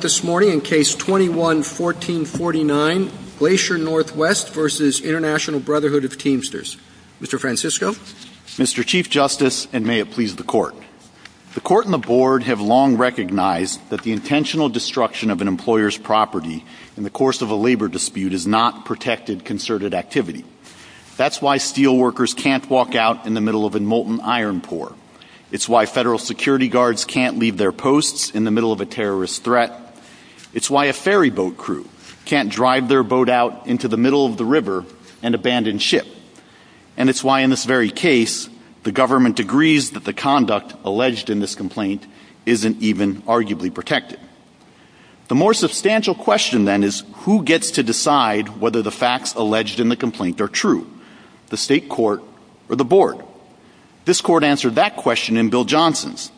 21-14-49, Glacier Northwest v. Int'l Brotherhood of Teamsters. Mr. Francisco. Mr. Chief Justice, and may it please the Court. The Court and the Board have long recognized that the intentional destruction of an employer's property in the course of a labor dispute is not protected concerted activity. That's why steel workers can't walk out in the middle of a molten iron pour. It's why Federal security guards can't leave their posts in the middle of a terrorist threat. It's why a ferry boat crew can't drive their boat out into the middle of the river and abandon ship. And it's why, in this very case, the government agrees that the conduct alleged in this complaint isn't even arguably protected. The more substantial question, then, is who gets to decide whether the facts alleged in the complaint are true? The State Court or the Board? This Court answered that question in Bill Johnson's.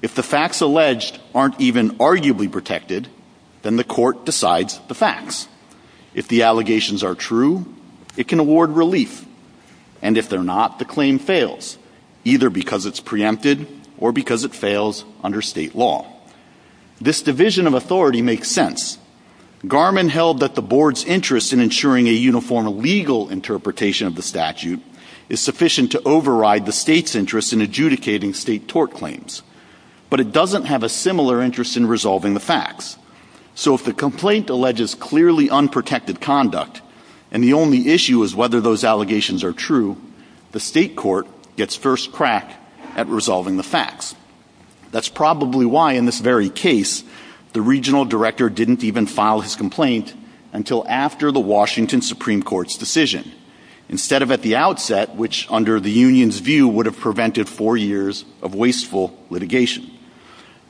If the facts alleged aren't even arguably protected, then the Court decides the facts. If the allegations are true, it can award relief. And if they're not, the claim fails, either because it's preempted or because it fails under State law. This division of authority makes sense. Garmon held that the Board's interest in ensuring a uniform legal interpretation of the statute is sufficient to override the State's interest in adjudicating State tort claims. But it doesn't have a similar interest in resolving the facts. So if the complaint alleges clearly unprotected conduct, and the only issue is whether those allegations are true, the State Court gets first crack at resolving the facts. That's probably why, in this very case, the Regional Director didn't even file his complaint until after the Washington Supreme Court's decision. Instead of at the outset, which, under the Union's view, would have prevented four years of wasteful litigation.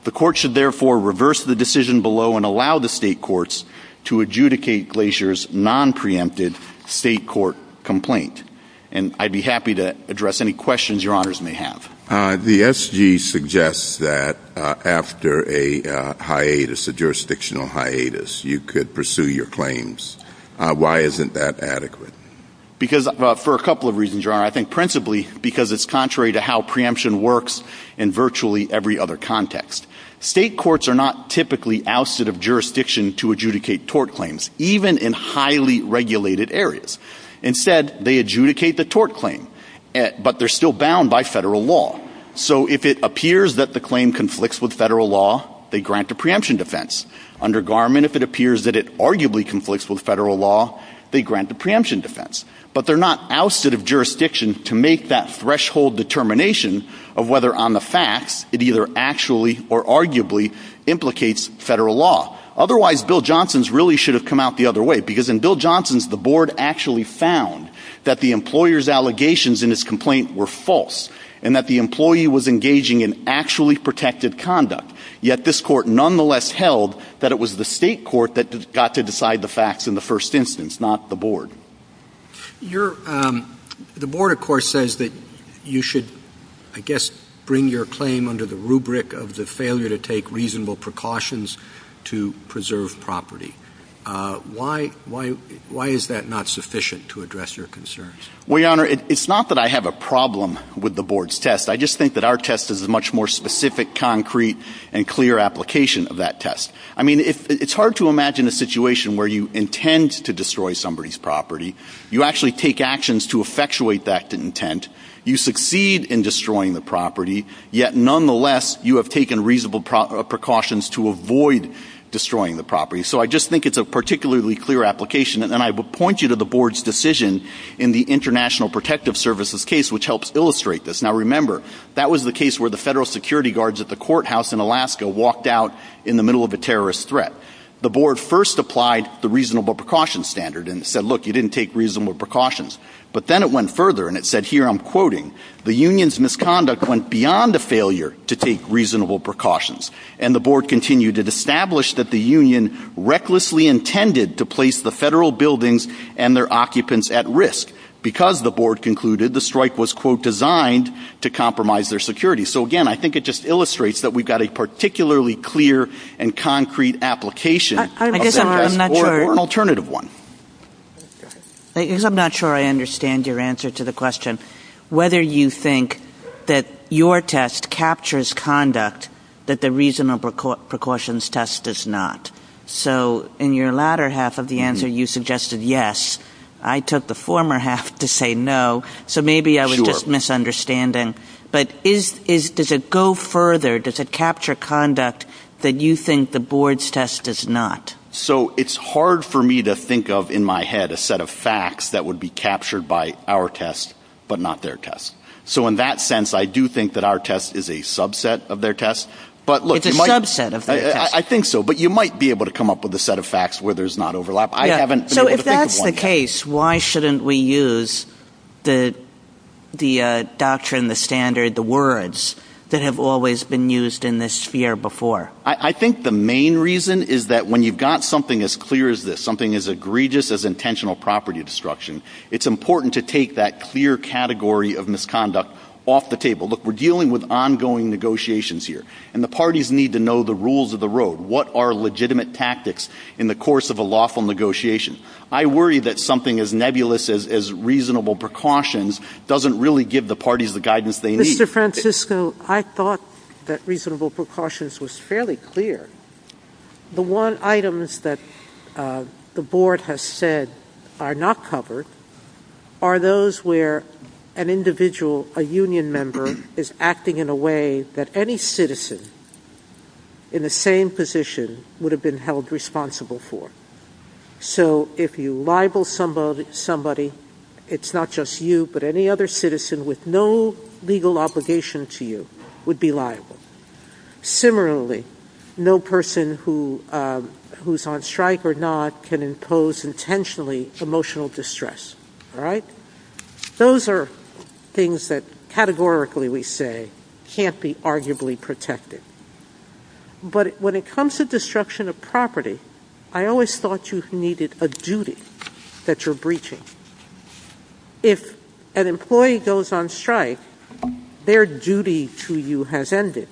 The Court should, therefore, reverse the decision below and allow the State Courts to adjudicate Glacier's non-preempted State court complaint. And I'd be happy to address any questions your honors may have. The SG suggests that after a hiatus, a jurisdictional hiatus, you could pursue your claims. Why isn't that adequate? Because, for a couple of reasons, your honor. I think principally because it's contrary to how preemption works in virtually every other context. State courts are not typically ousted of jurisdiction to adjudicate tort claims, even in highly regulated areas. Instead, they adjudicate the tort claim, but they're still bound by federal law. So if it appears that the claim conflicts with federal law, they grant the preemption defense. Under Garment, if it appears that it arguably conflicts with federal law, they grant the preemption defense. But they're not ousted of jurisdiction to make that threshold determination of whether on the facts it either actually or arguably implicates federal law. Otherwise, Bill Johnson's really should have come out the other way. Because in Bill Johnson's, the Board actually found that the employer's allegations in his complaint were false. And that the employee was engaging in actually protected conduct. Yet this court nonetheless held that it was the state court that got to decide the facts in the first instance, not the Board. The Board, of course, says that you should, I guess, bring your claim under the rubric of the failure to take reasonable precautions to preserve property. Why is that not sufficient to address your concerns? Well, your honor, it's not that I have a problem with the Board's test. I just think that our test is a much more specific, concrete, and clear application of that test. I mean, it's hard to imagine a situation where you intend to destroy somebody's property. You actually take actions to effectuate that intent. You succeed in destroying the property. Yet nonetheless, you have taken reasonable precautions to avoid destroying the property. So I just think it's a particularly clear application. And I will point you to the Board's decision in the International Protective Services case, which helps illustrate this. Now remember, that was the case where the federal security guards at the courthouse in Alaska walked out in the middle of a terrorist threat. The Board first applied the reasonable precautions standard and said, look, you didn't take reasonable precautions. But then it went further and it said, here I'm quoting, the Union's misconduct went beyond a failure to take reasonable precautions. And the Board continued, it established that the Union recklessly intended to place the federal buildings and their occupants at risk. Because, the Board concluded, the strike was, quote, designed to compromise their security. So again, I think it just illustrates that we've got a particularly clear and concrete application of that test. Or an alternative one. I guess I'm not sure I understand your answer to the question. Whether you think that your test captures conduct that the reasonable precautions test does not. So in your latter half of the answer, you suggested yes. I took the former half to say no. So maybe I was just misunderstanding. But does it go further? Does it capture conduct that you think the Board's test does not? So it's hard for me to think of in my head a set of facts that would be captured by our test, but not their test. So in that sense, I do think that our test is a subset of their test. It's a subset of their test. I think so. But you might be able to come up with a set of facts where there's not overlap. So if that's the case, why shouldn't we use the doctrine, the standard, the words that have always been used in this sphere before? I think the main reason is that when you've got something as clear as this, something as egregious as intentional property destruction, it's important to take that clear category of misconduct off the table. Look, we're dealing with ongoing negotiations here. And the parties need to know the rules of the road. What are legitimate tactics in the course of a lawful negotiation? I worry that something as nebulous as reasonable precautions doesn't really give the parties the guidance they need. Mr. Francisco, I thought that reasonable precautions was fairly clear. The one items that the board has said are not covered are those where an individual, a union member, is acting in a way that any citizen in the same position would have been held responsible for. So if you libel somebody, it's not just you, but any other citizen with no legal obligation to you would be liable. Similarly, no person who's on strike or not can impose intentionally emotional distress. All right? Those are things that categorically we say can't be arguably protected. But when it comes to destruction of property, I always thought you needed a duty that you're breaching. If an employee goes on strike, their duty to you has ended.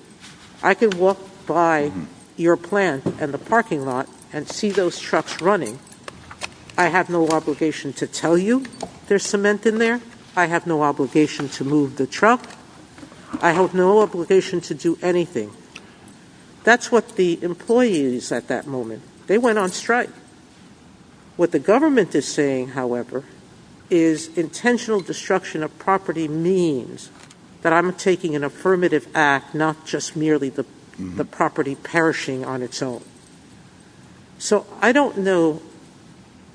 I can walk by your plant and the parking lot and see those trucks running. I have no obligation to tell you there's cement in there. I have no obligation to move the truck. I have no obligation to do anything. That's what the employees at that moment, they went on strike. What the government is saying, however, is intentional destruction of property means that I'm taking an affirmative act, not just merely the property perishing on its own. So I don't know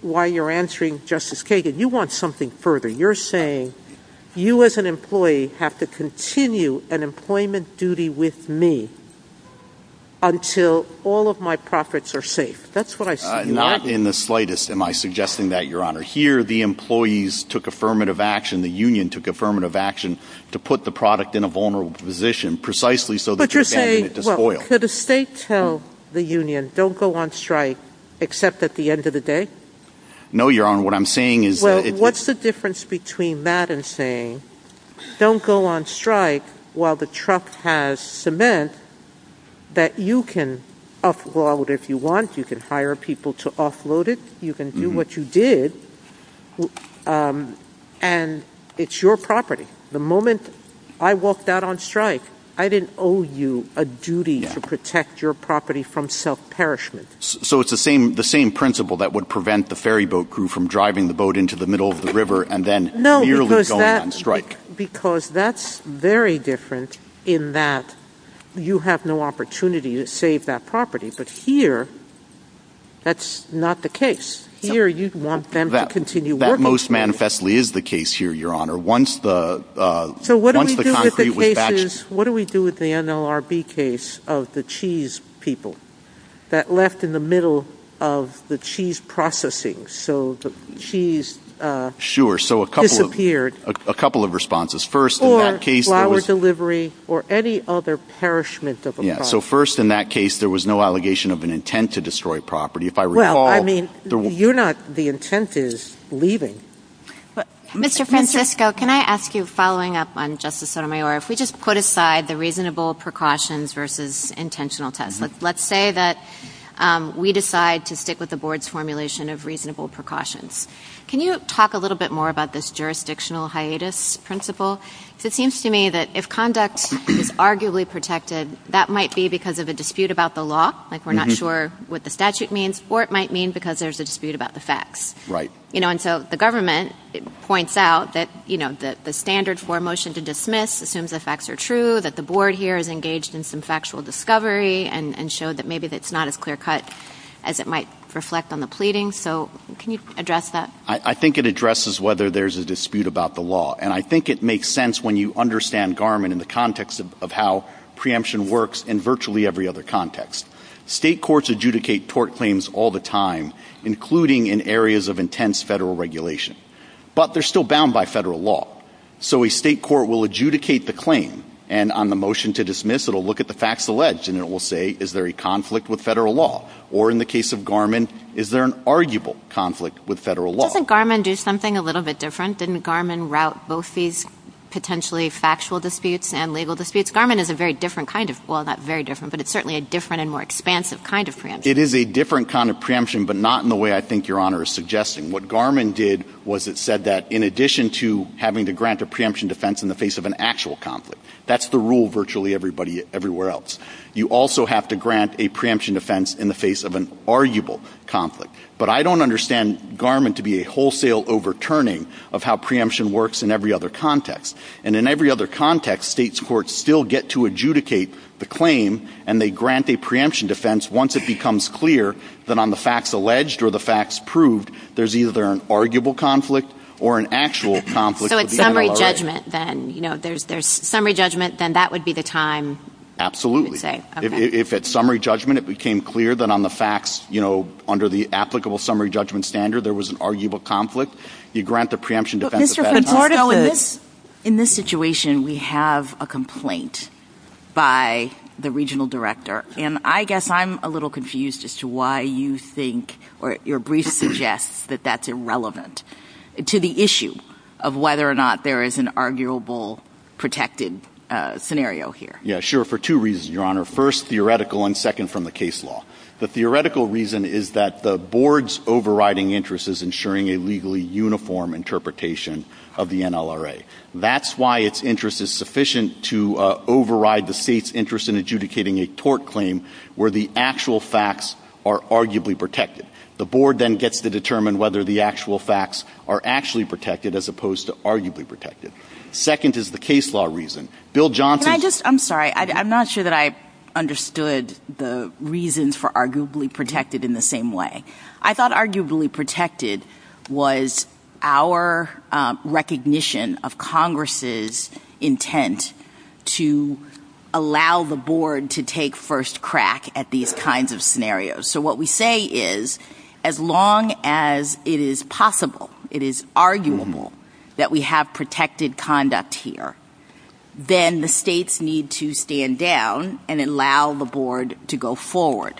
why you're answering, Justice Kagan. You want something further. You're saying you as an employee have to continue an employment duty with me until all of my profits are safe. That's what I said. Not in the slightest am I suggesting that, Your Honor. Here, the employees took affirmative action. The union took affirmative action to put the product in a vulnerable position precisely so that you're standing it to spoil. But you're saying, well, could a state tell the union, don't go on strike except at the end of the day? No, Your Honor. What I'm saying is— Well, what's the difference between that and saying, Don't go on strike while the truck has cement that you can upload if you want. You can hire people to offload it. You can do what you did, and it's your property. The moment I walked out on strike, I didn't owe you a duty to protect your property from self-perishment. So it's the same principle that would prevent the ferry boat crew from driving the boat into the middle of the river and then merely going on strike. Because that's very different in that you have no opportunity to save that property. But here, that's not the case. Here, you'd want them to continue working. That most manifestly is the case here, Your Honor. So what do we do with the NLRB case of the cheese people that left in the middle of the cheese processing? Sure. So a couple of responses. Or flower delivery or any other perishment of a property. Yeah. So first, in that case, there was no allegation of an intent to destroy property. If I recall— Well, I mean, you're not—the intent is leaving. Mr. Francesco, can I ask you, following up on Justice Sotomayor, if we just put aside the reasonable precautions versus intentional tests. Let's say that we decide to stick with the board's formulation of reasonable precautions. Can you talk a little bit more about this jurisdictional hiatus principle? Because it seems to me that if conduct is arguably protected, that might be because of a dispute about the law. Like, we're not sure what the statute means. Or it might mean because there's a dispute about the facts. Right. And so the government points out that the standard for a motion to dismiss assumes the facts are true, that the board here is engaged in some factual discovery, and showed that maybe that's not as clear-cut as it might reflect on the pleading. So can you address that? I think it addresses whether there's a dispute about the law. And I think it makes sense when you understand Garment in the context of how preemption works in virtually every other context. State courts adjudicate tort claims all the time, including in areas of intense federal regulation. But they're still bound by federal law. So a state court will adjudicate the claim, and on the motion to dismiss it will look at the facts alleged, and it will say, is there a conflict with federal law? Or in the case of Garment, is there an arguable conflict with federal law? Doesn't Garment do something a little bit different? Didn't Garment route both these potentially factual disputes and legal disputes? Garment is a very different kind of – well, not very different, but it's certainly a different and more expansive kind of preemption. It is a different kind of preemption, but not in the way I think Your Honor is suggesting. What Garment did was it said that in addition to having to grant a preemption defense in the face of an actual conflict – that's the rule virtually everywhere else – you also have to grant a preemption defense in the face of an arguable conflict. But I don't understand Garment to be a wholesale overturning of how preemption works in every other context. And in every other context, states' courts still get to adjudicate the claim, and they grant a preemption defense once it becomes clear that on the facts alleged or the facts proved, there's either an arguable conflict or an actual conflict with federal law. So it's summary judgment, then. You know, there's summary judgment, then that would be the time – Absolutely. Okay. If at summary judgment it became clear that on the facts, you know, under the applicable summary judgment standard there was an arguable conflict, you grant the preemption defense at that time. Mr. Conforto, in this situation we have a complaint by the regional director. And I guess I'm a little confused as to why you think or your brief suggests that that's irrelevant to the issue of whether or not there is an arguable protected scenario here. Yeah, sure, for two reasons, Your Honor. First, theoretical, and second, from the case law. The theoretical reason is that the board's overriding interest is ensuring a legally uniform interpretation of the NLRA. That's why its interest is sufficient to override the state's interest in adjudicating a tort claim where the actual facts are arguably protected. The board then gets to determine whether the actual facts are actually protected as opposed to arguably protected. Second is the case law reason. Bill Johnson – Can I just – I'm sorry, I'm not sure that I understood the reasons for arguably protected in the same way. I thought arguably protected was our recognition of Congress's intent to allow the board to take first crack at these kinds of scenarios. So what we say is as long as it is possible, it is arguable that we have protected conduct here, then the states need to stand down and allow the board to go forward.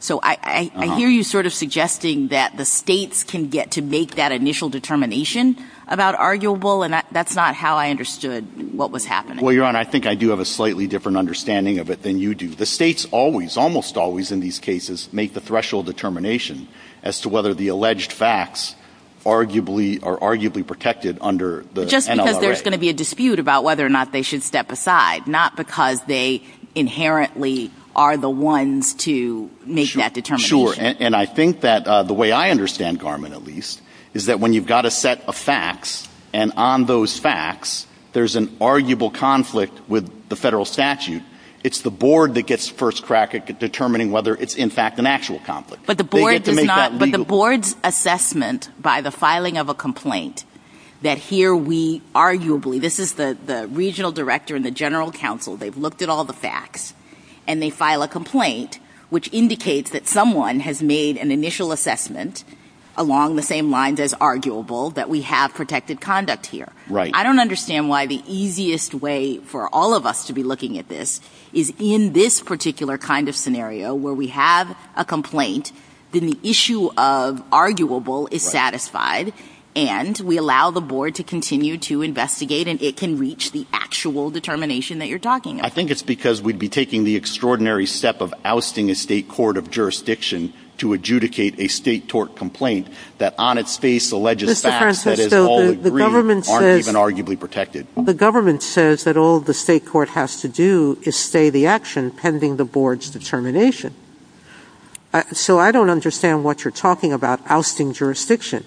So I hear you sort of suggesting that the states can get to make that initial determination about arguable, and that's not how I understood what was happening. Well, Your Honor, I think I do have a slightly different understanding of it than you do. The states always, almost always in these cases, make the threshold determination as to whether the alleged facts are arguably protected under the NLRA. Because there's going to be a dispute about whether or not they should step aside, not because they inherently are the ones to make that determination. Sure, and I think that the way I understand, Carmen, at least, is that when you've got a set of facts, and on those facts there's an arguable conflict with the federal statute, it's the board that gets first crack at determining whether it's in fact an actual conflict. But the board's assessment by the filing of a complaint that here we arguably, this is the regional director and the general counsel, they've looked at all the facts, and they file a complaint which indicates that someone has made an initial assessment along the same lines as arguable that we have protected conduct here. I don't understand why the easiest way for all of us to be looking at this is in this particular kind of scenario where we have a complaint, then the issue of arguable is satisfied, and we allow the board to continue to investigate, and it can reach the actual determination that you're talking about. I think it's because we'd be taking the extraordinary step of ousting a state court of jurisdiction to adjudicate a state tort complaint that on its face, alleges facts that is all agreed and aren't even arguably protected. The government says that all the state court has to do is stay the action pending the board's determination. So I don't understand what you're talking about, ousting jurisdiction.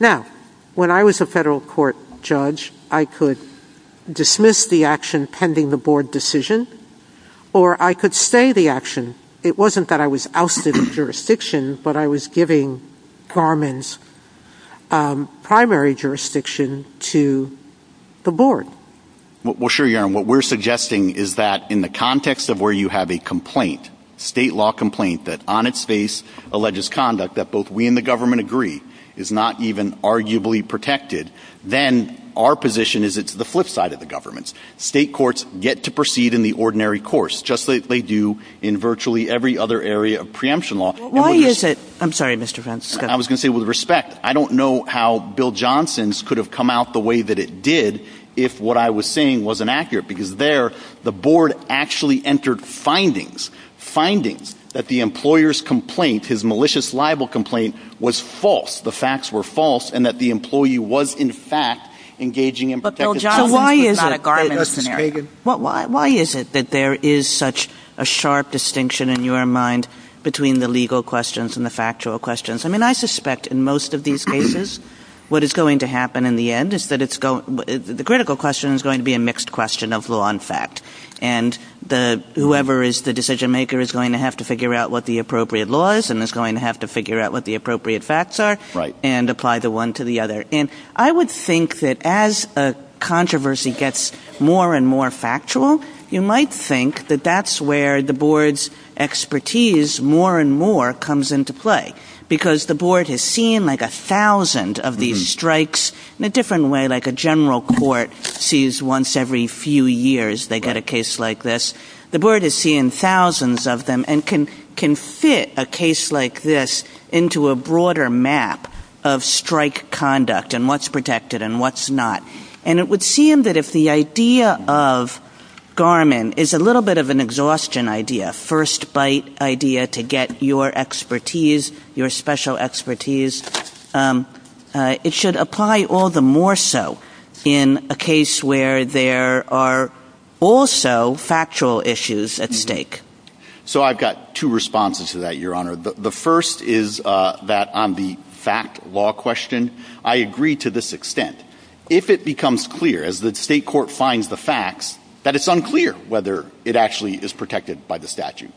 Now, when I was a federal court judge, I could dismiss the action pending the board decision, or I could stay the action. It wasn't that I was ousting jurisdiction, but I was giving Garmin's primary jurisdiction to the board. Well, sure, Your Honor. What we're suggesting is that in the context of where you have a complaint, state law complaint that on its face alleges conduct that both we and the government agree is not even arguably protected, then our position is it's the flip side of the government. State courts get to proceed in the ordinary course, just like they do in virtually every other area of preemption law. Why is it? I'm sorry, Mr. Fentz. I was going to say, with respect, I don't know how Bill Johnson's could have come out the way that it did if what I was saying wasn't accurate, because there, the board actually entered findings, findings that the employer's complaint, his malicious libel complaint, was false. The facts were false, and that the employee was, in fact, engaging in protection. So why is it that there is such a sharp distinction in your mind between the legal questions and the factual questions? I mean, I suspect in most of these cases what is going to happen in the end is that it's going, the critical question is going to be a mixed question of law and fact, and whoever is the decision maker is going to have to figure out what the appropriate law is and is going to have to figure out what the appropriate facts are and apply the one to the other. And I would think that as a controversy gets more and more factual, you might think that that's where the board's expertise more and more comes into play, because the board has seen like a thousand of these strikes in a different way, like a general court sees once every few years they get a case like this. The board has seen thousands of them and can fit a case like this into a broader map of strike conduct and what's protected and what's not. And it would seem that if the idea of Garmin is a little bit of an exhaustion idea, first bite idea to get your expertise, your special expertise, it should apply all the more so in a case where there are also factual issues at stake. So I've got two responses to that, Your Honor. The first is that on the fact law question, I agree to this extent. If it becomes clear, as the state court finds the facts, that it's unclear whether it actually is protected by the statute,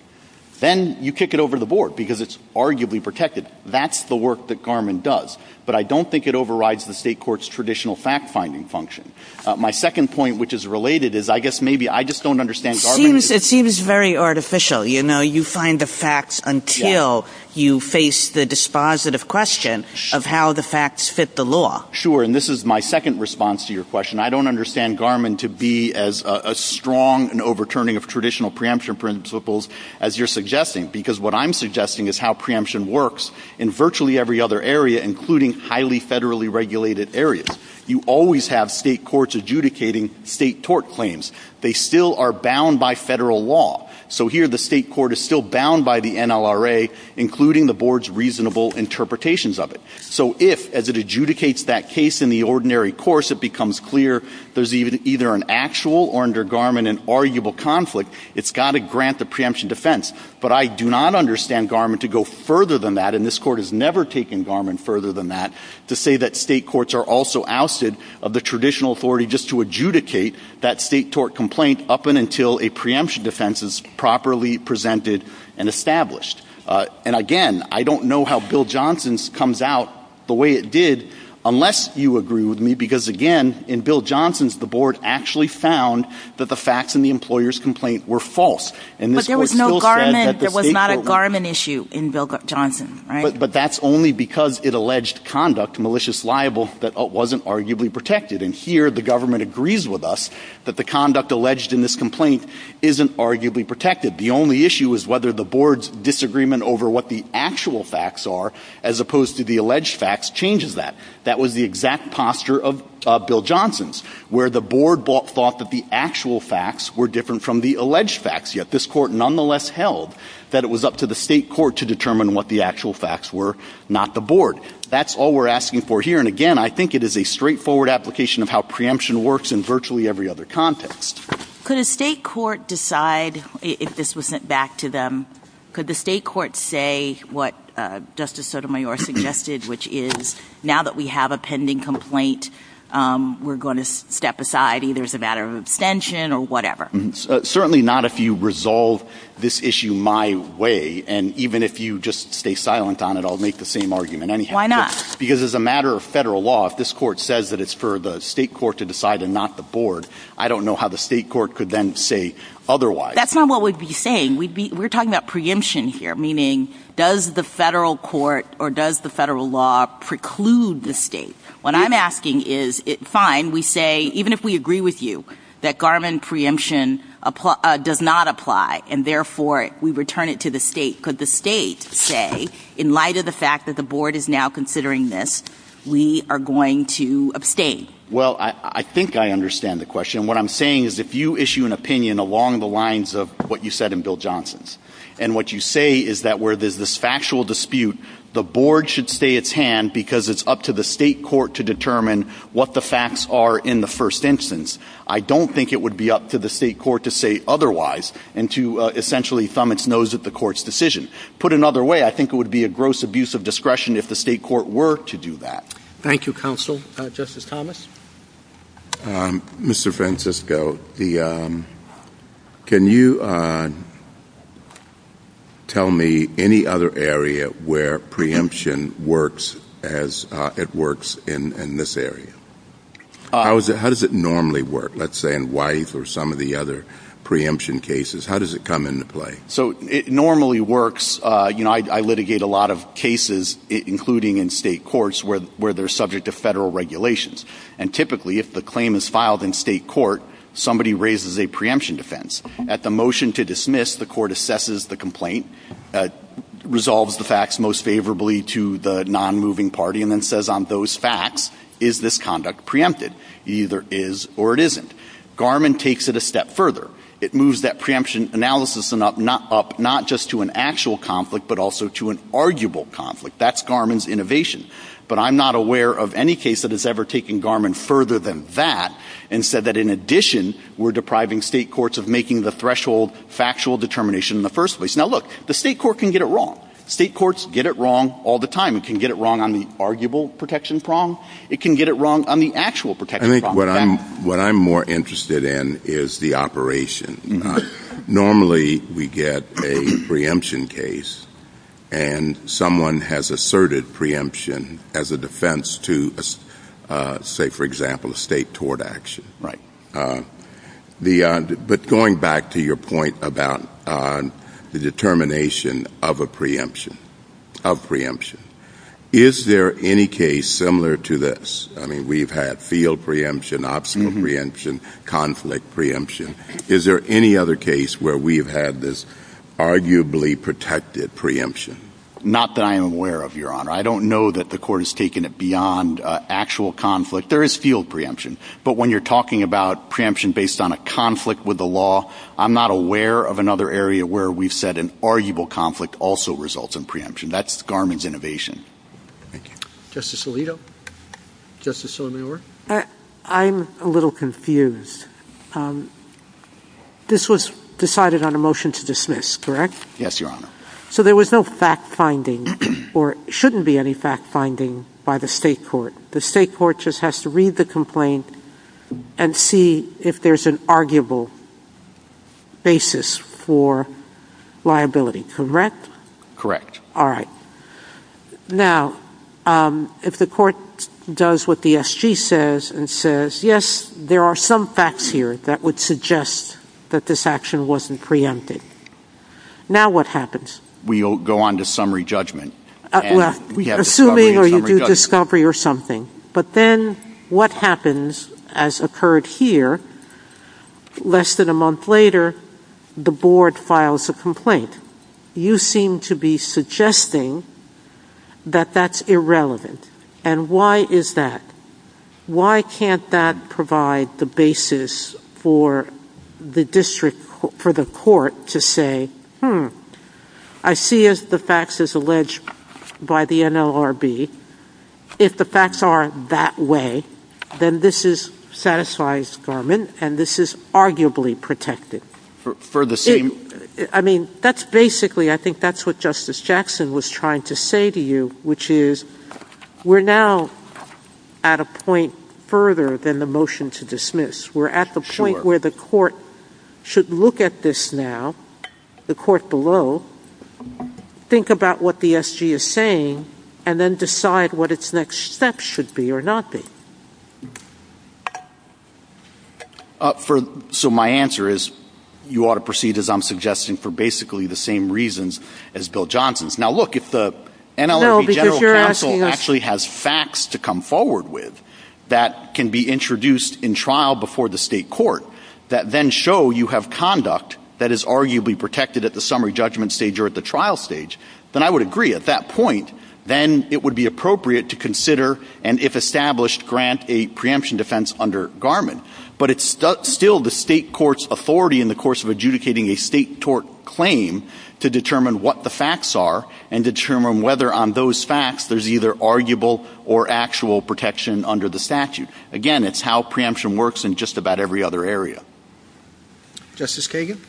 then you kick it over to the board because it's arguably protected. That's the work that Garmin does, but I don't think it overrides the state court's traditional fact-finding function. My second point, which is related, is I guess maybe I just don't understand Garmin. It seems very artificial. You know, you find the facts until you face the dispositive question of how the facts fit the law. Sure, and this is my second response to your question. I don't understand Garmin to be as strong an overturning of traditional preemption principles as you're suggesting, because what I'm suggesting is how preemption works in virtually every other area, including highly federally regulated areas. You always have state courts adjudicating state tort claims. They still are bound by federal law. So here the state court is still bound by the NLRA, including the board's reasonable interpretations of it. So if, as it adjudicates that case in the ordinary course, it becomes clear there's either an actual or under Garmin an arguable conflict, it's got to grant the preemption defense. But I do not understand Garmin to go further than that, and this court has never taken Garmin further than that, to say that state courts are also ousted of the traditional authority just to adjudicate that state tort complaint up and until a preemption defense is properly presented and established. And, again, I don't know how Bill Johnson's comes out the way it did unless you agree with me, because, again, in Bill Johnson's the board actually found that the facts in the employer's complaint were false. But there was no Garmin. There was not a Garmin issue in Bill Johnson, right? But that's only because it alleged conduct, malicious libel, that wasn't arguably protected. And here the government agrees with us that the conduct alleged in this complaint isn't arguably protected. The only issue is whether the board's disagreement over what the actual facts are, as opposed to the alleged facts, changes that. That was the exact posture of Bill Johnson's, where the board thought that the actual facts were different from the alleged facts, yet this court nonetheless held that it was up to the state court to determine what the actual facts were, not the board. That's all we're asking for here. And, again, I think it is a straightforward application of how preemption works in virtually every other context. Could a state court decide, if this was sent back to them, could the state court say what Justice Sotomayor suggested, which is, now that we have a pending complaint, we're going to step aside, either as a matter of abstention or whatever? Certainly not if you resolve this issue my way. And even if you just stay silent on it, I'll make the same argument anyhow. Why not? Because as a matter of federal law, if this court says that it's for the state court to decide and not the board, I don't know how the state court could then say otherwise. That's not what we'd be saying. We're talking about preemption here, meaning does the federal court or does the federal law preclude the state? What I'm asking is, fine, we say, even if we agree with you that Garvin preemption does not apply and, therefore, we return it to the state, could the state say, in light of the fact that the board is now considering this, we are going to abstain? Well, I think I understand the question. What I'm saying is if you issue an opinion along the lines of what you said in Bill Johnson's and what you say is that where there's this factual dispute, the board should stay its hand because it's up to the state court to determine what the facts are in the first instance. I don't think it would be up to the state court to say otherwise and to essentially thumb its nose at the court's decision. Put another way, I think it would be a gross abuse of discretion if the state court were to do that. Thank you, Counsel. Justice Thomas? Mr. Francisco, can you tell me any other area where preemption works as it works in this area? How does it normally work, let's say, in Wife or some of the other preemption cases? How does it come into play? So it normally works. I litigate a lot of cases, including in state courts, where they're subject to federal regulations. And typically, if the claim is filed in state court, somebody raises a preemption defense. At the motion to dismiss, the court assesses the complaint, resolves the facts most favorably to the non-moving party, and then says on those facts, is this conduct preempted? It either is or it isn't. Garmin takes it a step further. It moves that preemption analysis up not just to an actual conflict but also to an arguable conflict. That's Garmin's innovation. But I'm not aware of any case that has ever taken Garmin further than that and said that, in addition, we're depriving state courts of making the threshold factual determination in the first place. Now, look, the state court can get it wrong. State courts get it wrong all the time. It can get it wrong on the arguable protection prong. It can get it wrong on the actual protection prong. What I'm more interested in is the operation. Normally we get a preemption case and someone has asserted preemption as a defense to, say, for example, a state tort action. Right. But going back to your point about the determination of a preemption, of preemption, is there any case similar to this? I mean, we've had field preemption, obstacle preemption, conflict preemption. Is there any other case where we've had this arguably protected preemption? Not that I'm aware of, Your Honor. I don't know that the court has taken it beyond actual conflict. There is field preemption. But when you're talking about preemption based on a conflict with the law, I'm not aware of another area where we've said an arguable conflict also results in preemption. That's Garmin's innovation. Thank you. Justice Alito? Justice Sotomayor? I'm a little confused. This was decided on a motion to dismiss, correct? Yes, Your Honor. So there was no fact-finding or shouldn't be any fact-finding by the state court. The state court just has to read the complaint and see if there's an arguable basis for liability, correct? Correct. All right. Now, if the court does what the SG says and says, yes, there are some facts here that would suggest that this action wasn't preempted, now what happens? We'll go on to summary judgment. Assuming you do discovery or something. But then what happens, as occurred here, less than a month later, the board files a complaint. You seem to be suggesting that that's irrelevant. And why is that? Why can't that provide the basis for the district, for the court, to say, hmm, I see the facts as alleged by the NLRB. If the facts aren't that way, then this satisfies Garmin and this is arguably protected. I mean, that's basically, I think that's what Justice Jackson was trying to say to you, which is we're now at a point further than the motion to dismiss. We're at the point where the court should look at this now, the court below, think about what the SG is saying, and then decide what its next steps should be or not be. So my answer is you ought to proceed, as I'm suggesting, for basically the same reasons as Bill Johnson's. Now, look, if the NLRB general counsel actually has facts to come forward with that can be introduced in trial before the state court that then show you have conduct that is arguably protected at the summary judgment stage or at the trial stage, then I would agree at that point, then it would be appropriate to consider and if established, grant a preemption defense under Garmin. But it's still the state court's authority in the course of adjudicating a state tort claim to determine what the facts are and determine whether on those facts there's either arguable or actual protection under the statute. Again, it's how preemption works in just about every other area. Justice Kagan?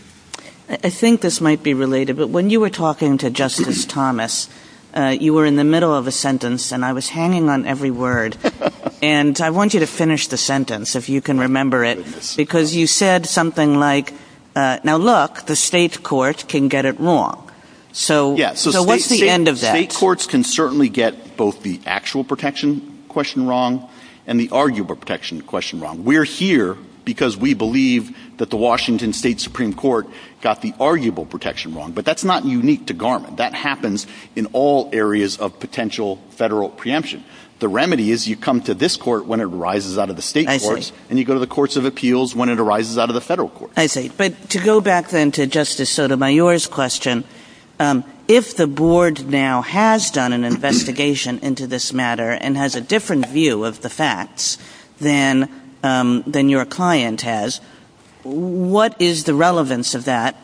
I think this might be related, but when you were talking to Justice Thomas, you were in the middle of a sentence, and I was hanging on every word. And I want you to finish the sentence, if you can remember it, because you said something like, now look, the state court can get it wrong. So what's the end of that? State courts can certainly get both the actual protection question wrong and the arguable protection question wrong. We're here because we believe that the Washington State Supreme Court got the arguable protection wrong. But that's not unique to Garmin. That happens in all areas of potential federal preemption. The remedy is you come to this court when it arises out of the state courts, and you go to the courts of appeals when it arises out of the federal courts. I see. But to go back then to Justice Sotomayor's question, if the board now has done an investigation into this matter and has a different view of the facts than your client has, what is the relevance of that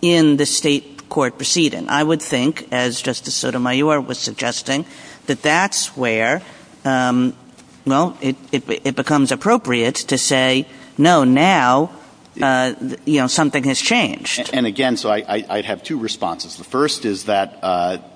in the state court proceeding? I would think, as Justice Sotomayor was suggesting, that that's where, well, it becomes appropriate to say, no, now, you know, something has changed. And, again, so I have two responses. The first is that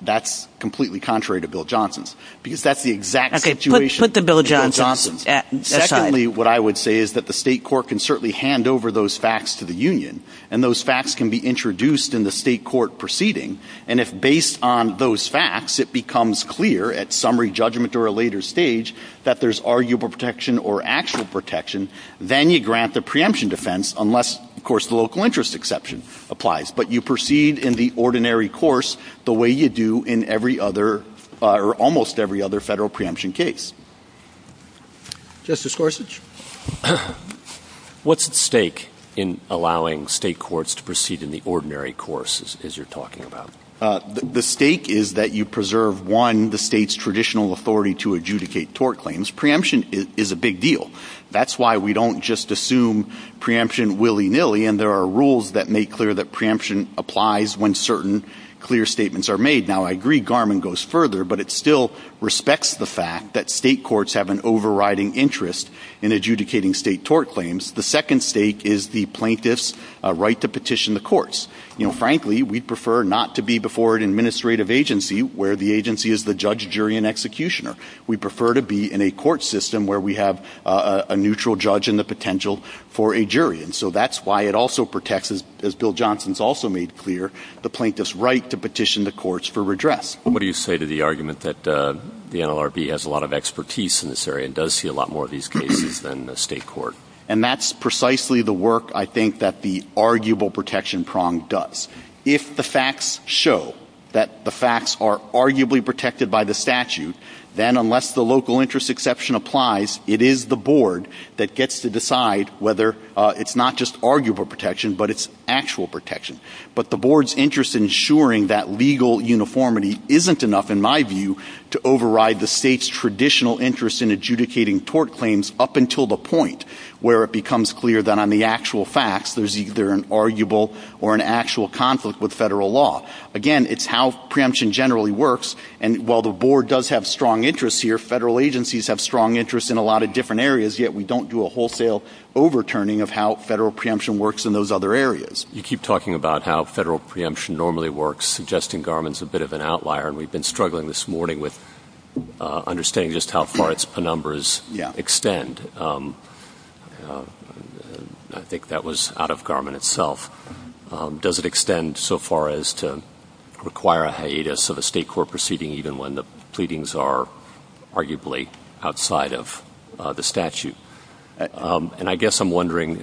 that's completely contrary to Bill Johnson's, because that's the exact situation. Okay, put the Bill Johnson aside. Secondly, what I would say is that the state court can certainly hand over those facts to the union, and those facts can be introduced in the state court proceeding. And if, based on those facts, it becomes clear at summary judgment or a later stage that there's arguable protection or actual protection, then you grant the preemption defense unless, of course, the local interest exception applies. But you proceed in the ordinary course the way you do in every other or almost every other federal preemption case. Justice Gorsuch, what's at stake in allowing state courts to proceed in the ordinary course, as you're talking about? The stake is that you preserve, one, the state's traditional authority to adjudicate tort claims. Preemption is a big deal. That's why we don't just assume preemption willy-nilly, and there are rules that make clear that preemption applies when certain clear statements are made. Now, I agree Garmon goes further, but it still respects the fact that state courts have an overriding interest in adjudicating state tort claims. The second stake is the plaintiff's right to petition the courts. You know, frankly, we prefer not to be before an administrative agency where the agency is the judge, jury, and executioner. We prefer to be in a court system where we have a neutral judge and the potential for a jury. And so that's why it also protects, as Bill Johnson's also made clear, the plaintiff's right to petition the courts for redress. What do you say to the argument that the NLRB has a lot of expertise in this area and does see a lot more of these cases than the state court? And that's precisely the work, I think, that the arguable protection prong does. If the facts show that the facts are arguably protected by the statute, then unless the local interest exception applies, it is the board that gets to decide whether it's not just arguable protection, but it's actual protection. But the board's interest in ensuring that legal uniformity isn't enough, in my view, to override the state's traditional interest in adjudicating tort claims up until the point where it becomes clear that on the actual facts there's either an arguable or an actual conflict with federal law. Again, it's how preemption generally works. And while the board does have strong interests here, federal agencies have strong interests in a lot of different areas, yet we don't do a wholesale overturning of how federal preemption works in those other areas. You keep talking about how federal preemption normally works, suggesting Garmin's a bit of an outlier, and we've been struggling this morning with understanding just how far its penumbras extend. I think that was out of Garmin itself. Does it extend so far as to require a hiatus of a state court proceeding, even when the pleadings are arguably outside of the statute? And I guess I'm wondering,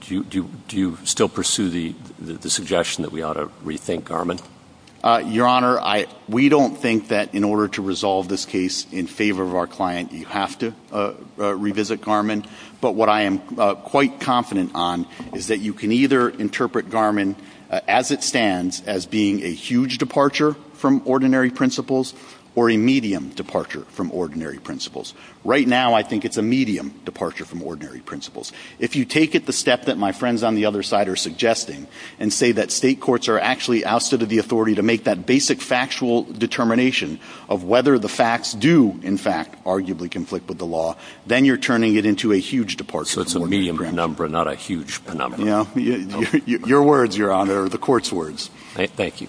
do you still pursue the suggestion that we ought to rethink Garmin? Your Honor, we don't think that in order to resolve this case in favor of our client, you have to revisit Garmin. But what I am quite confident on is that you can either interpret Garmin as it stands as being a huge departure from ordinary principles or a medium departure from ordinary principles. Right now, I think it's a medium departure from ordinary principles. If you take it the step that my friends on the other side are suggesting and say that state courts are actually outside of the authority to make that basic factual determination of whether the facts do, in fact, arguably conflict with the law, then you're turning it into a huge departure from ordinary principles. So it's a medium penumbra, not a huge penumbra. Your words, Your Honor, are the court's words. Thank you.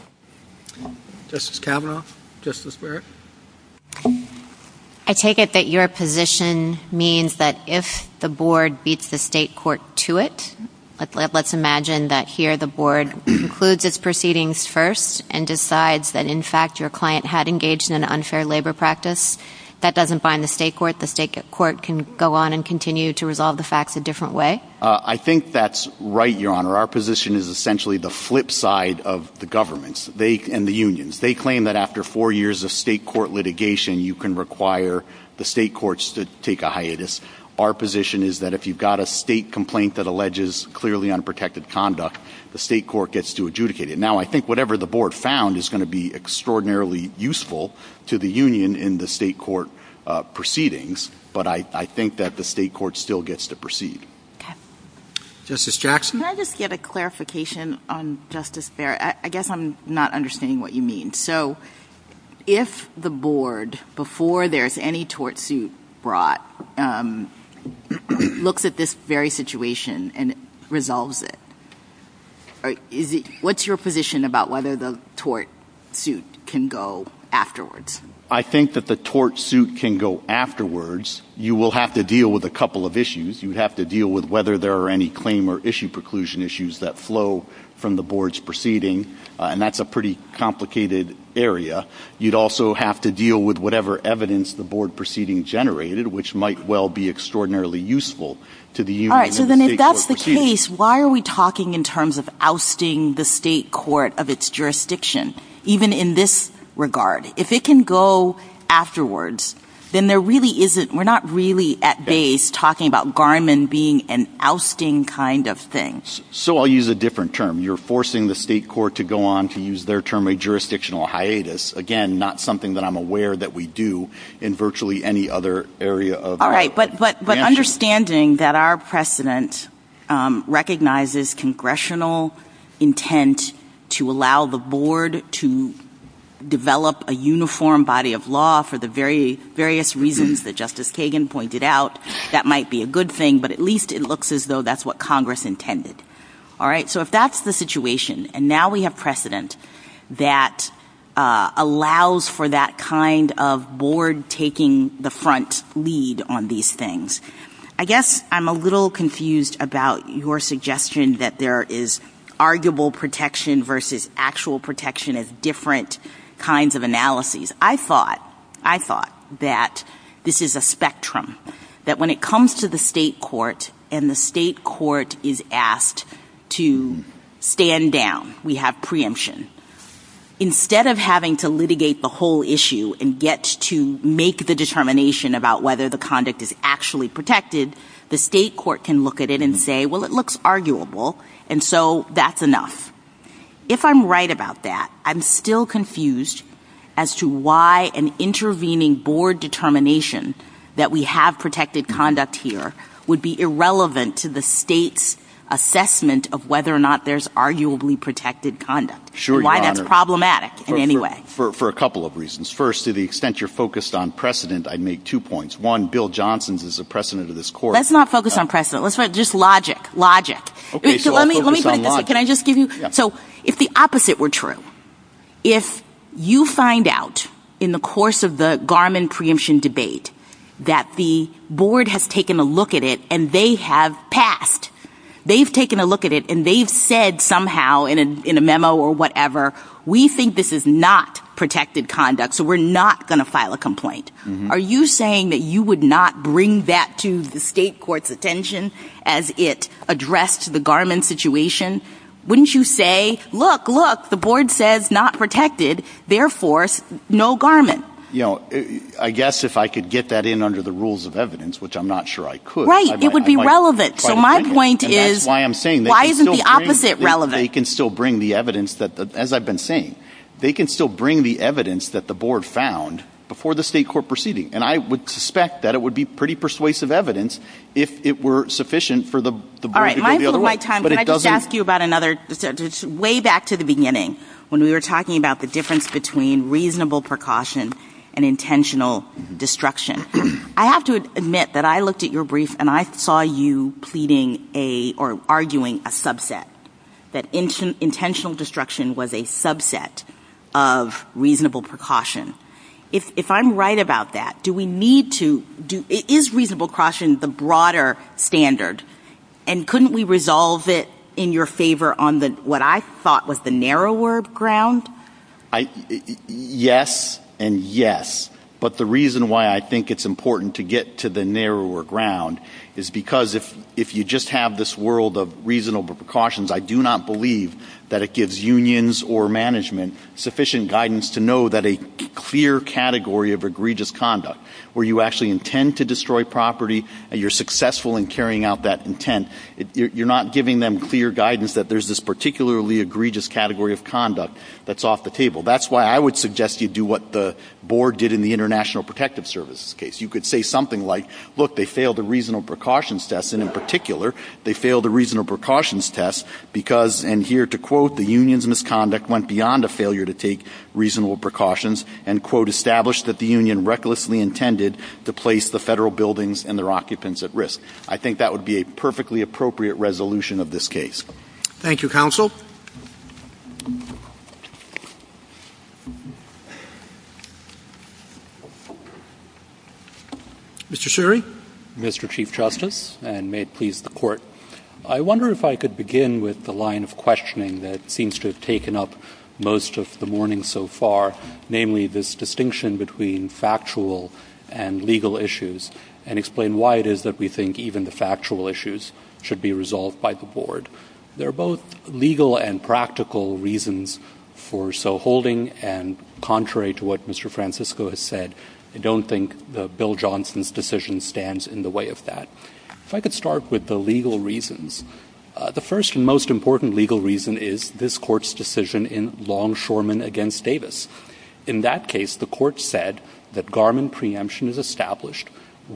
Justice Kavanaugh, Justice Barrett? I take it that your position means that if the board beats the state court to it, let's imagine that here the board concludes its proceedings first and decides that, in fact, your client had engaged in an unfair labor practice. That doesn't bind the state court. The state court can go on and continue to resolve the facts a different way. I think that's right, Your Honor. Our position is essentially the flip side of the governments and the unions. They claim that after four years of state court litigation, you can require the state courts to take a hiatus. Our position is that if you've got a state complaint that alleges clearly unprotected conduct, the state court gets to adjudicate it. Now, I think whatever the board found is going to be extraordinarily useful to the union in the state court proceedings, but I think that the state court still gets to proceed. Justice Jackson? Can I just get a clarification on Justice Barrett? I guess I'm not understanding what you mean. So if the board, before there's any tort suit brought, looks at this very situation and resolves it, what's your position about whether the tort suit can go afterwards? I think that the tort suit can go afterwards. You will have to deal with a couple of issues. You'd have to deal with whether there are any claim or issue preclusion issues that flow from the board's proceeding, and that's a pretty complicated area. You'd also have to deal with whatever evidence the board proceeding generated, which might well be extraordinarily useful to the union in the state court proceedings. All right, so then if that's the case, why are we talking in terms of ousting the state court of its jurisdiction, even in this regard? If it can go afterwards, then there really isn't, we're not really at base talking about Garmin being an ousting kind of thing. So I'll use a different term. You're forcing the state court to go on, to use their term, a jurisdictional hiatus. Again, not something that I'm aware that we do in virtually any other area of the country. But understanding that our precedent recognizes congressional intent to allow the board to develop a uniform body of law for the various reasons that Justice Kagan pointed out, that might be a good thing, but at least it looks as though that's what Congress intended. All right, so if that's the situation, and now we have precedent that allows for that kind of board taking the front lead on these things, I guess I'm a little confused about your suggestion that there is arguable protection versus actual protection as different kinds of analyses. I thought that this is a spectrum, that when it comes to the state court and the state court is asked to stand down, we have preemption. Instead of having to litigate the whole issue and get to make the determination about whether the conduct is actually protected, the state court can look at it and say, well, it looks arguable, and so that's enough. If I'm right about that, I'm still confused as to why an intervening board determination that we have protected conduct here would be irrelevant to the state's assessment of whether or not there's arguably protected conduct. Why that's problematic in any way. For a couple of reasons. First, to the extent you're focused on precedent, I'd make two points. One, Bill Johnson is the precedent of this court. Let's not focus on precedent. Let's focus on logic. If the opposite were true, if you find out in the course of the Garmin preemption debate that the board has taken a look at it and they have passed, they've taken a look at it and they've said somehow in a memo or whatever, we think this is not protected conduct, so we're not going to file a complaint. Are you saying that you would not bring that to the state court's attention as it addressed the Garmin situation? Wouldn't you say, look, look, the board says not protected, therefore, no Garmin? I guess if I could get that in under the rules of evidence, which I'm not sure I could. Right. It would be relevant. So my point is, why isn't the opposite relevant? They can still bring the evidence that, as I've been saying, they can still bring the evidence that the board found before the state court proceeding. And I would suspect that it would be pretty persuasive evidence if it were sufficient for the board to go the other way. All right. I just asked you about another way back to the beginning when we were talking about the difference between reasonable precaution and intentional destruction. I have to admit that I looked at your brief and I saw you pleading or arguing a subset, that intentional destruction was a subset of reasonable precaution. If I'm right about that, is reasonable precaution the broader standard? And couldn't we resolve it in your favor on what I thought was the narrower ground? Yes and yes. But the reason why I think it's important to get to the narrower ground is because if you just have this world of reasonable precautions, I do not believe that it gives unions or management sufficient guidance to know that a clear category of egregious conduct, where you actually intend to destroy property and you're successful in carrying out that intent, you're not giving them clear guidance that there's this particularly egregious category of conduct that's off the table. That's why I would suggest you do what the board did in the International Protective Services case. You could say something like, look, they failed the reasonable precautions test. And in particular, they failed the reasonable precautions test because, and here to quote, the union's misconduct went beyond a failure to take reasonable precautions and, quote, established that the union recklessly intended to place the federal buildings and their occupants at risk. I think that would be a perfectly appropriate resolution of this case. Thank you, counsel. Mr. Sherry? Mr. Chief Justice, and may it please the Court, I wonder if I could begin with the line of questioning that seems to have taken up most of the morning so far, namely this distinction between factual and legal issues, and explain why it is that we think even the factual issues should be resolved by the board. There are both legal and practical reasons for so holding, and contrary to what Mr. Francisco has said, I don't think Bill Johnson's decision stands in the way of that. If I could start with the legal reasons. The first and most important legal reason is this Court's decision in Longshoreman v. Davis. In that case, the Court said that Garmin preemption is established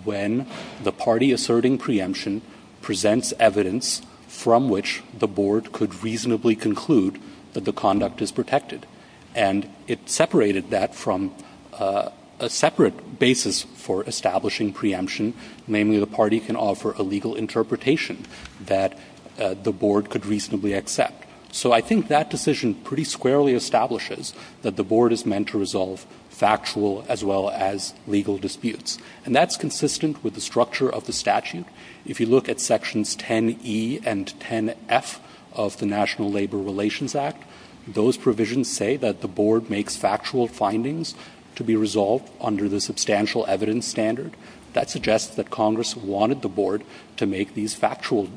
when the party asserting preemption presents evidence from which the board could reasonably conclude that the conduct is protected. And it separated that from a separate basis for establishing preemption, namely the party can offer a legal interpretation that the board could reasonably accept. So I think that decision pretty squarely establishes that the board is meant to resolve factual as well as legal disputes. And that's consistent with the structure of the statute. If you look at Sections 10E and 10F of the National Labor Relations Act, those provisions say that the board makes factual findings to be resolved under the substantial evidence standard. That suggests that Congress wanted the board to make these factual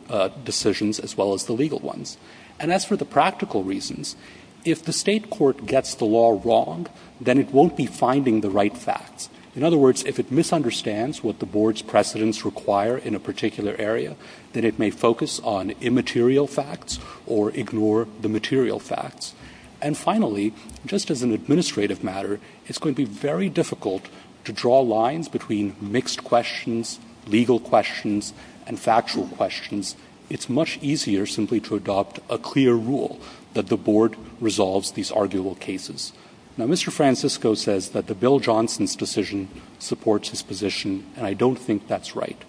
decisions as well as the legal ones. And that's for the practical reasons. If the state court gets the law wrong, then it won't be finding the right facts. In other words, if it misunderstands what the board's precedents require in a particular area, then it may focus on immaterial facts or ignore the material facts. And finally, just as an administrative matter, it's going to be very difficult to draw lines between mixed questions, legal questions, and factual questions. It's much easier simply to adopt a clear rule that the board resolves these arguable cases. Now, Mr. Francisco says that the Bill Johnson's decision supports his position, and I don't think that's right.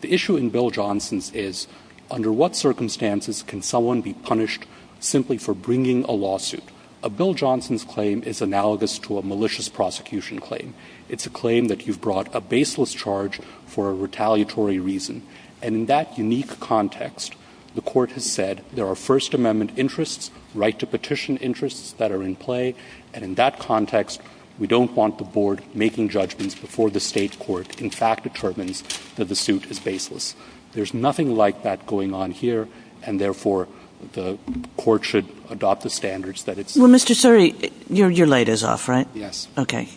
The issue in Bill Johnson's is, under what circumstances can someone be punished simply for bringing a lawsuit? A Bill Johnson's claim is analogous to a malicious prosecution claim. It's a claim that you've brought a baseless charge for a retaliatory reason. And in that unique context, the court has said, there are First Amendment interests, right-to-petition interests that are in play, and in that context, we don't want the board making judgments before the state court in fact determines that the suit is baseless. There's nothing like that going on here, and therefore, the court should adopt the standards that it's— Well, Mr. Suri, your light is off, right? Yes. Okay.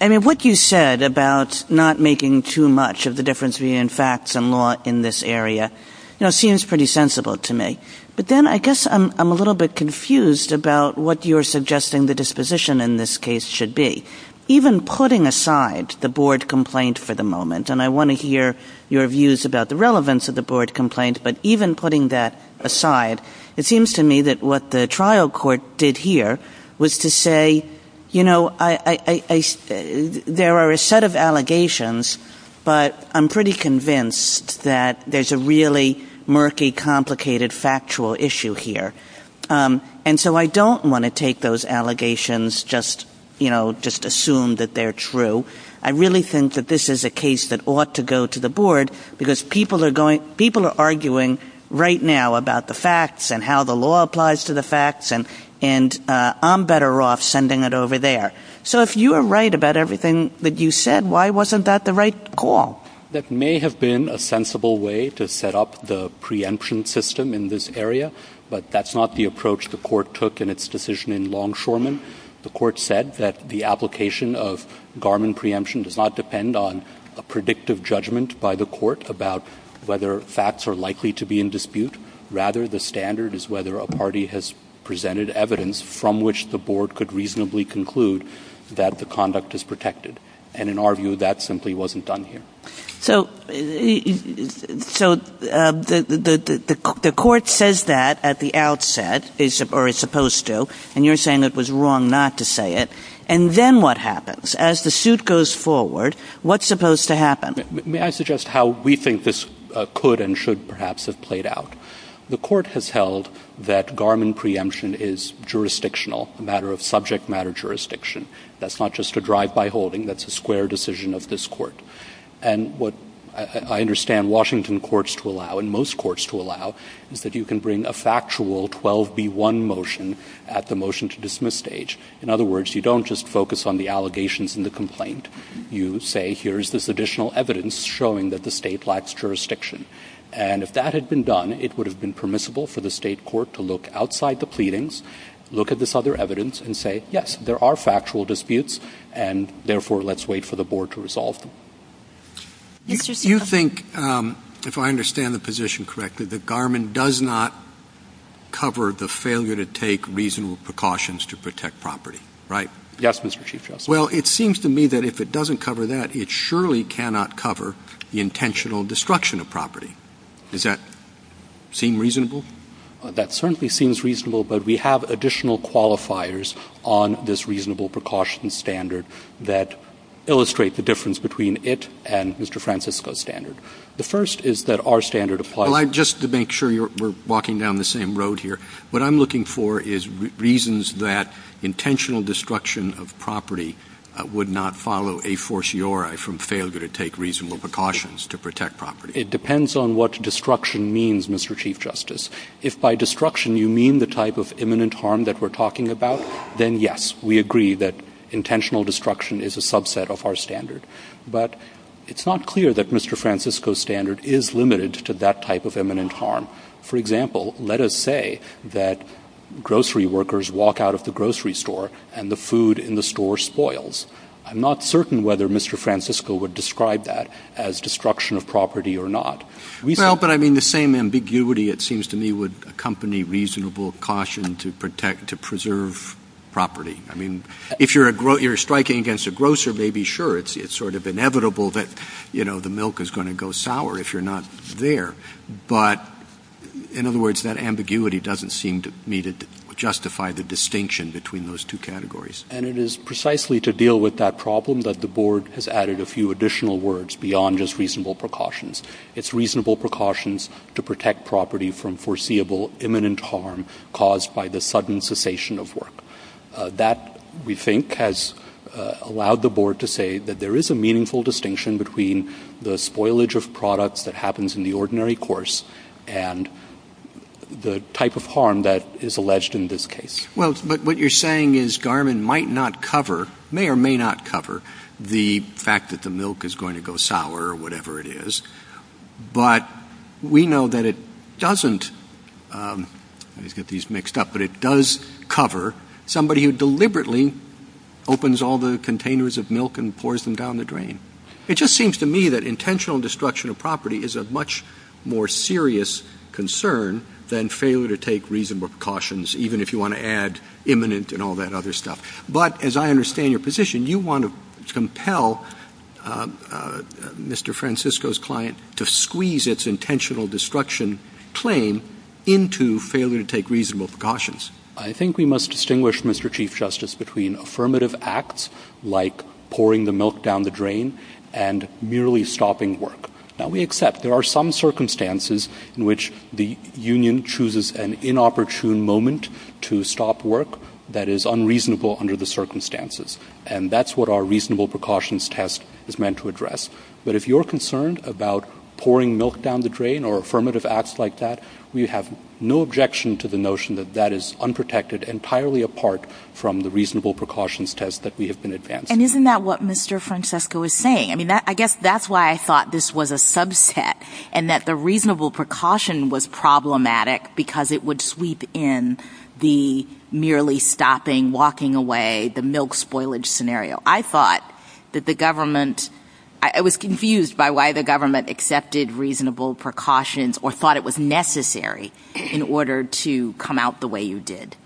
I mean, what you said about not making too much of the difference between facts and law in this area, you know, seems pretty sensible to me. But then I guess I'm a little bit confused about what you're suggesting the disposition in this case should be. Even putting aside the board complaint for the moment, and I want to hear your views about the relevance of the board complaint, but even putting that aside, it seems to me that what the trial court did here was to say, you know, there are a set of allegations, but I'm pretty convinced that there's a really murky, complicated, factual issue here. And so I don't want to take those allegations, just, you know, just assume that they're true. I really think that this is a case that ought to go to the board, because people are arguing right now about the facts and how the law applies to the facts, and I'm better off sending it over there. So if you are right about everything that you said, why wasn't that the right call? That may have been a sensible way to set up the preemption system in this area, but that's not the approach the court took in its decision in Longshoreman. The court said that the application of Garmin preemption does not depend on a predictive judgment by the court about whether facts are likely to be in dispute. Rather, the standard is whether a party has presented evidence from which the board could reasonably conclude that the conduct is protected. And in our view, that simply wasn't done here. So the court says that at the outset, or is supposed to, and you're saying it was wrong not to say it. And then what happens? As the suit goes forward, what's supposed to happen? May I suggest how we think this could and should perhaps have played out? The court has held that Garmin preemption is jurisdictional, a matter of subject matter jurisdiction. That's not just a drive-by holding. That's a square decision of this court. And what I understand Washington courts to allow, and most courts to allow, is that you can bring a factual 12B1 motion at the motion-to-dismiss stage. In other words, you don't just focus on the allegations and the complaint. You say, here's this additional evidence showing that the state lacks jurisdiction. And if that had been done, it would have been permissible for the state court to look outside the pleadings, look at this other evidence, and say, yes, there are factual disputes. And therefore, let's wait for the board to resolve them. You think, if I understand the position correctly, that Garmin does not cover the failure to take reasonable precautions to protect property, right? Yes, Mr. Chief Justice. Well, it seems to me that if it doesn't cover that, it surely cannot cover the intentional destruction of property. Does that seem reasonable? That certainly seems reasonable, but we have additional qualifiers on this reasonable precautions standard that illustrate the difference between it and Mr. Francisco's standard. The first is that our standard applies. Well, just to make sure we're walking down the same road here, what I'm looking for is reasons that intentional destruction of property would not follow a fortiori from failure to take reasonable precautions to protect property. It depends on what destruction means, Mr. Chief Justice. If by destruction you mean the type of imminent harm that we're talking about, then yes, we agree that intentional destruction is a subset of our standard. But it's not clear that Mr. Francisco's standard is limited to that type of imminent harm. For example, let us say that grocery workers walk out of the grocery store and the food in the store spoils. I'm not certain whether Mr. Francisco would describe that as destruction of property or not. Well, but I mean the same ambiguity, it seems to me, would accompany reasonable caution to preserve property. I mean, if you're striking against a grocer, maybe sure, it's sort of inevitable that the milk is going to go sour if you're not there. But, in other words, that ambiguity doesn't seem to me to justify the distinction between those two categories. And it is precisely to deal with that problem that the Board has added a few additional words beyond just reasonable precautions. It's reasonable precautions to protect property from foreseeable imminent harm caused by the sudden cessation of work. That, we think, has allowed the Board to say that there is a meaningful distinction between the spoilage of products that happens in the ordinary course and the type of harm that is alleged in this case. Well, but what you're saying is Garmin might not cover, may or may not cover, the fact that the milk is going to go sour or whatever it is. But we know that it doesn't, let me get these mixed up, but it does cover somebody who deliberately opens all the containers of milk and pours them down the drain. It just seems to me that intentional destruction of property is a much more serious concern than failure to take reasonable precautions, even if you want to add imminent and all that other stuff. But, as I understand your position, you want to compel Mr. Francisco's client to squeeze its intentional destruction claim into failure to take reasonable precautions. I think we must distinguish, Mr. Chief Justice, between affirmative acts like pouring the milk down the drain and merely stopping work. Now, we accept there are some circumstances in which the union chooses an inopportune moment to stop work that is unreasonable under the circumstances. And that's what our reasonable precautions test is meant to address. But if you're concerned about pouring milk down the drain or affirmative acts like that, we have no objection to the notion that that is unprotected entirely apart from the reasonable precautions test that we have been advancing. And isn't that what Mr. Francisco was saying? I mean, I guess that's why I thought this was a subset and that the reasonable precaution was problematic because it would sweep in the merely stopping, walking away, the milk spoilage scenario. I thought that the government, I was confused by why the government accepted reasonable precautions or thought it was necessary in order to come out the way you did.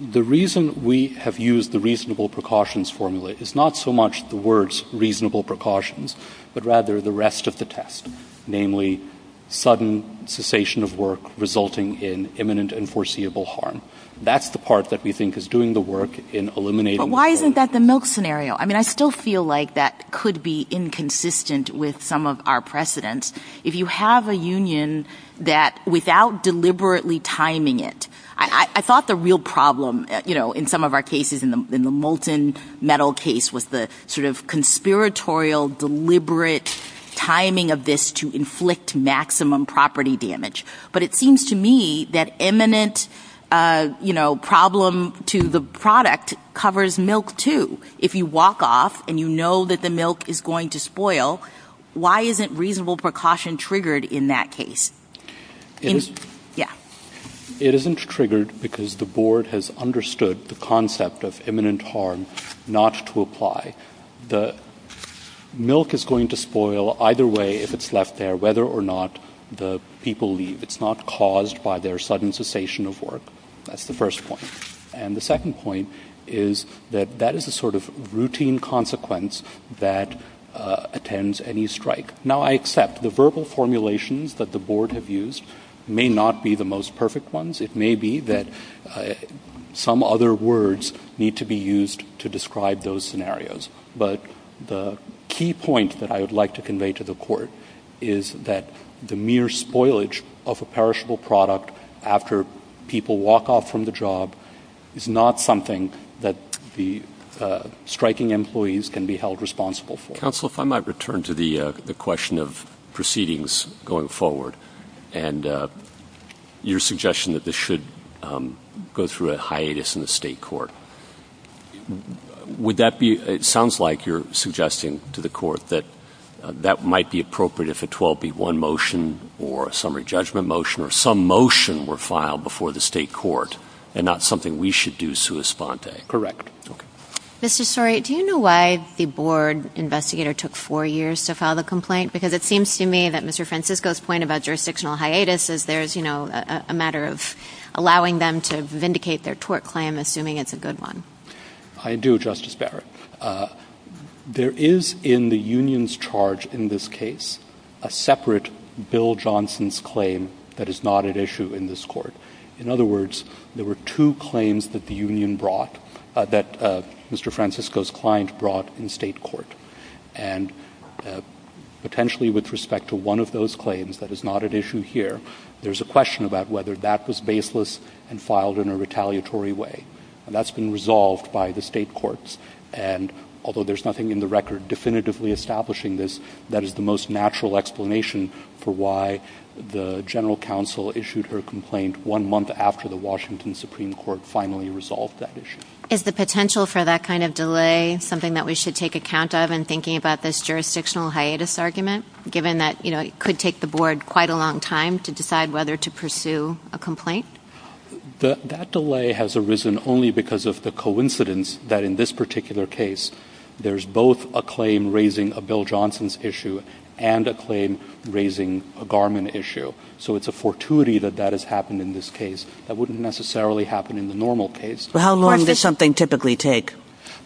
The reason we have used the reasonable precautions formula is not so much the words reasonable precautions, but rather the rest of the test, namely sudden cessation of work resulting in imminent and foreseeable harm. That's the part that we think is doing the work in eliminating... But why isn't that the milk scenario? I mean, I still feel like that could be inconsistent with some of our precedents. If you have a union that without deliberately timing it... I thought the real problem in some of our cases, in the molten metal case, was the sort of conspiratorial deliberate timing of this to inflict maximum property damage. But it seems to me that eminent problem to the product covers milk too. If you walk off and you know that the milk is going to spoil, why isn't reasonable precaution triggered in that case? It isn't triggered because the board has understood the concept of imminent harm not to apply. The milk is going to spoil either way if it's left there, whether or not the people leave. It's not caused by their sudden cessation of work. That's the first point. And the second point is that that is the sort of routine consequence that attends any strike. Now, I accept the verbal formulations that the board have used may not be the most perfect ones. It may be that some other words need to be used to describe those scenarios. But the key point that I would like to convey to the court is that the mere spoilage of a perishable product after people walk off from the job is not something that the striking employees can be held responsible for. Counsel, if I might return to the question of proceedings going forward and your suggestion that this should go through a hiatus in the state court. It sounds like you're suggesting to the court that that might be appropriate if a 12B1 motion or a summary judgment motion or some motion were filed before the state court and not something we should do sui sponte. Correct. Mr. Story, do you know why the board investigator took four years to file the complaint? Because it seems to me that Mr. Francisco's point about jurisdictional hiatus is there is, you know, a matter of allowing them to vindicate their tort claim, assuming it's a good one. I do, Justice Barrett. There is in the union's charge in this case a separate Bill Johnson's claim that is not at issue in this court. In other words, there were two claims that the union brought, that Mr. Francisco's client brought in state court. And potentially with respect to one of those claims that is not at issue here, there's a question about whether that was baseless and filed in a retaliatory way. And that's been resolved by the state courts. And although there's nothing in the record definitively establishing this, that is the most natural explanation for why the general counsel issued her complaint one month after the Washington Supreme Court finally resolved that issue. Is the potential for that kind of delay something that we should take account of in thinking about this jurisdictional hiatus argument, given that, you know, it could take the board quite a long time to decide whether to pursue a complaint? That delay has arisen only because of the coincidence that in this particular case, there's both a claim raising a Bill Johnson's issue and a claim raising a Garmon issue. So it's a fortuity that that has happened in this case. That wouldn't necessarily happen in the normal case. How long does something typically take?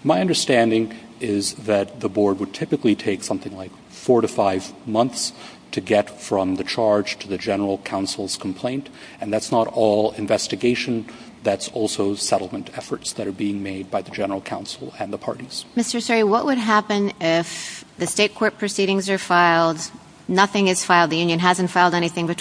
My understanding is that the board would typically take something like four to five months to get from the charge to the general counsel's complaint. And that's not all investigation. That's also settlement efforts that are being made by the general counsel and the parties. Mr. Seri, what would happen if the state court proceedings are filed, nothing is filed, the union hasn't filed anything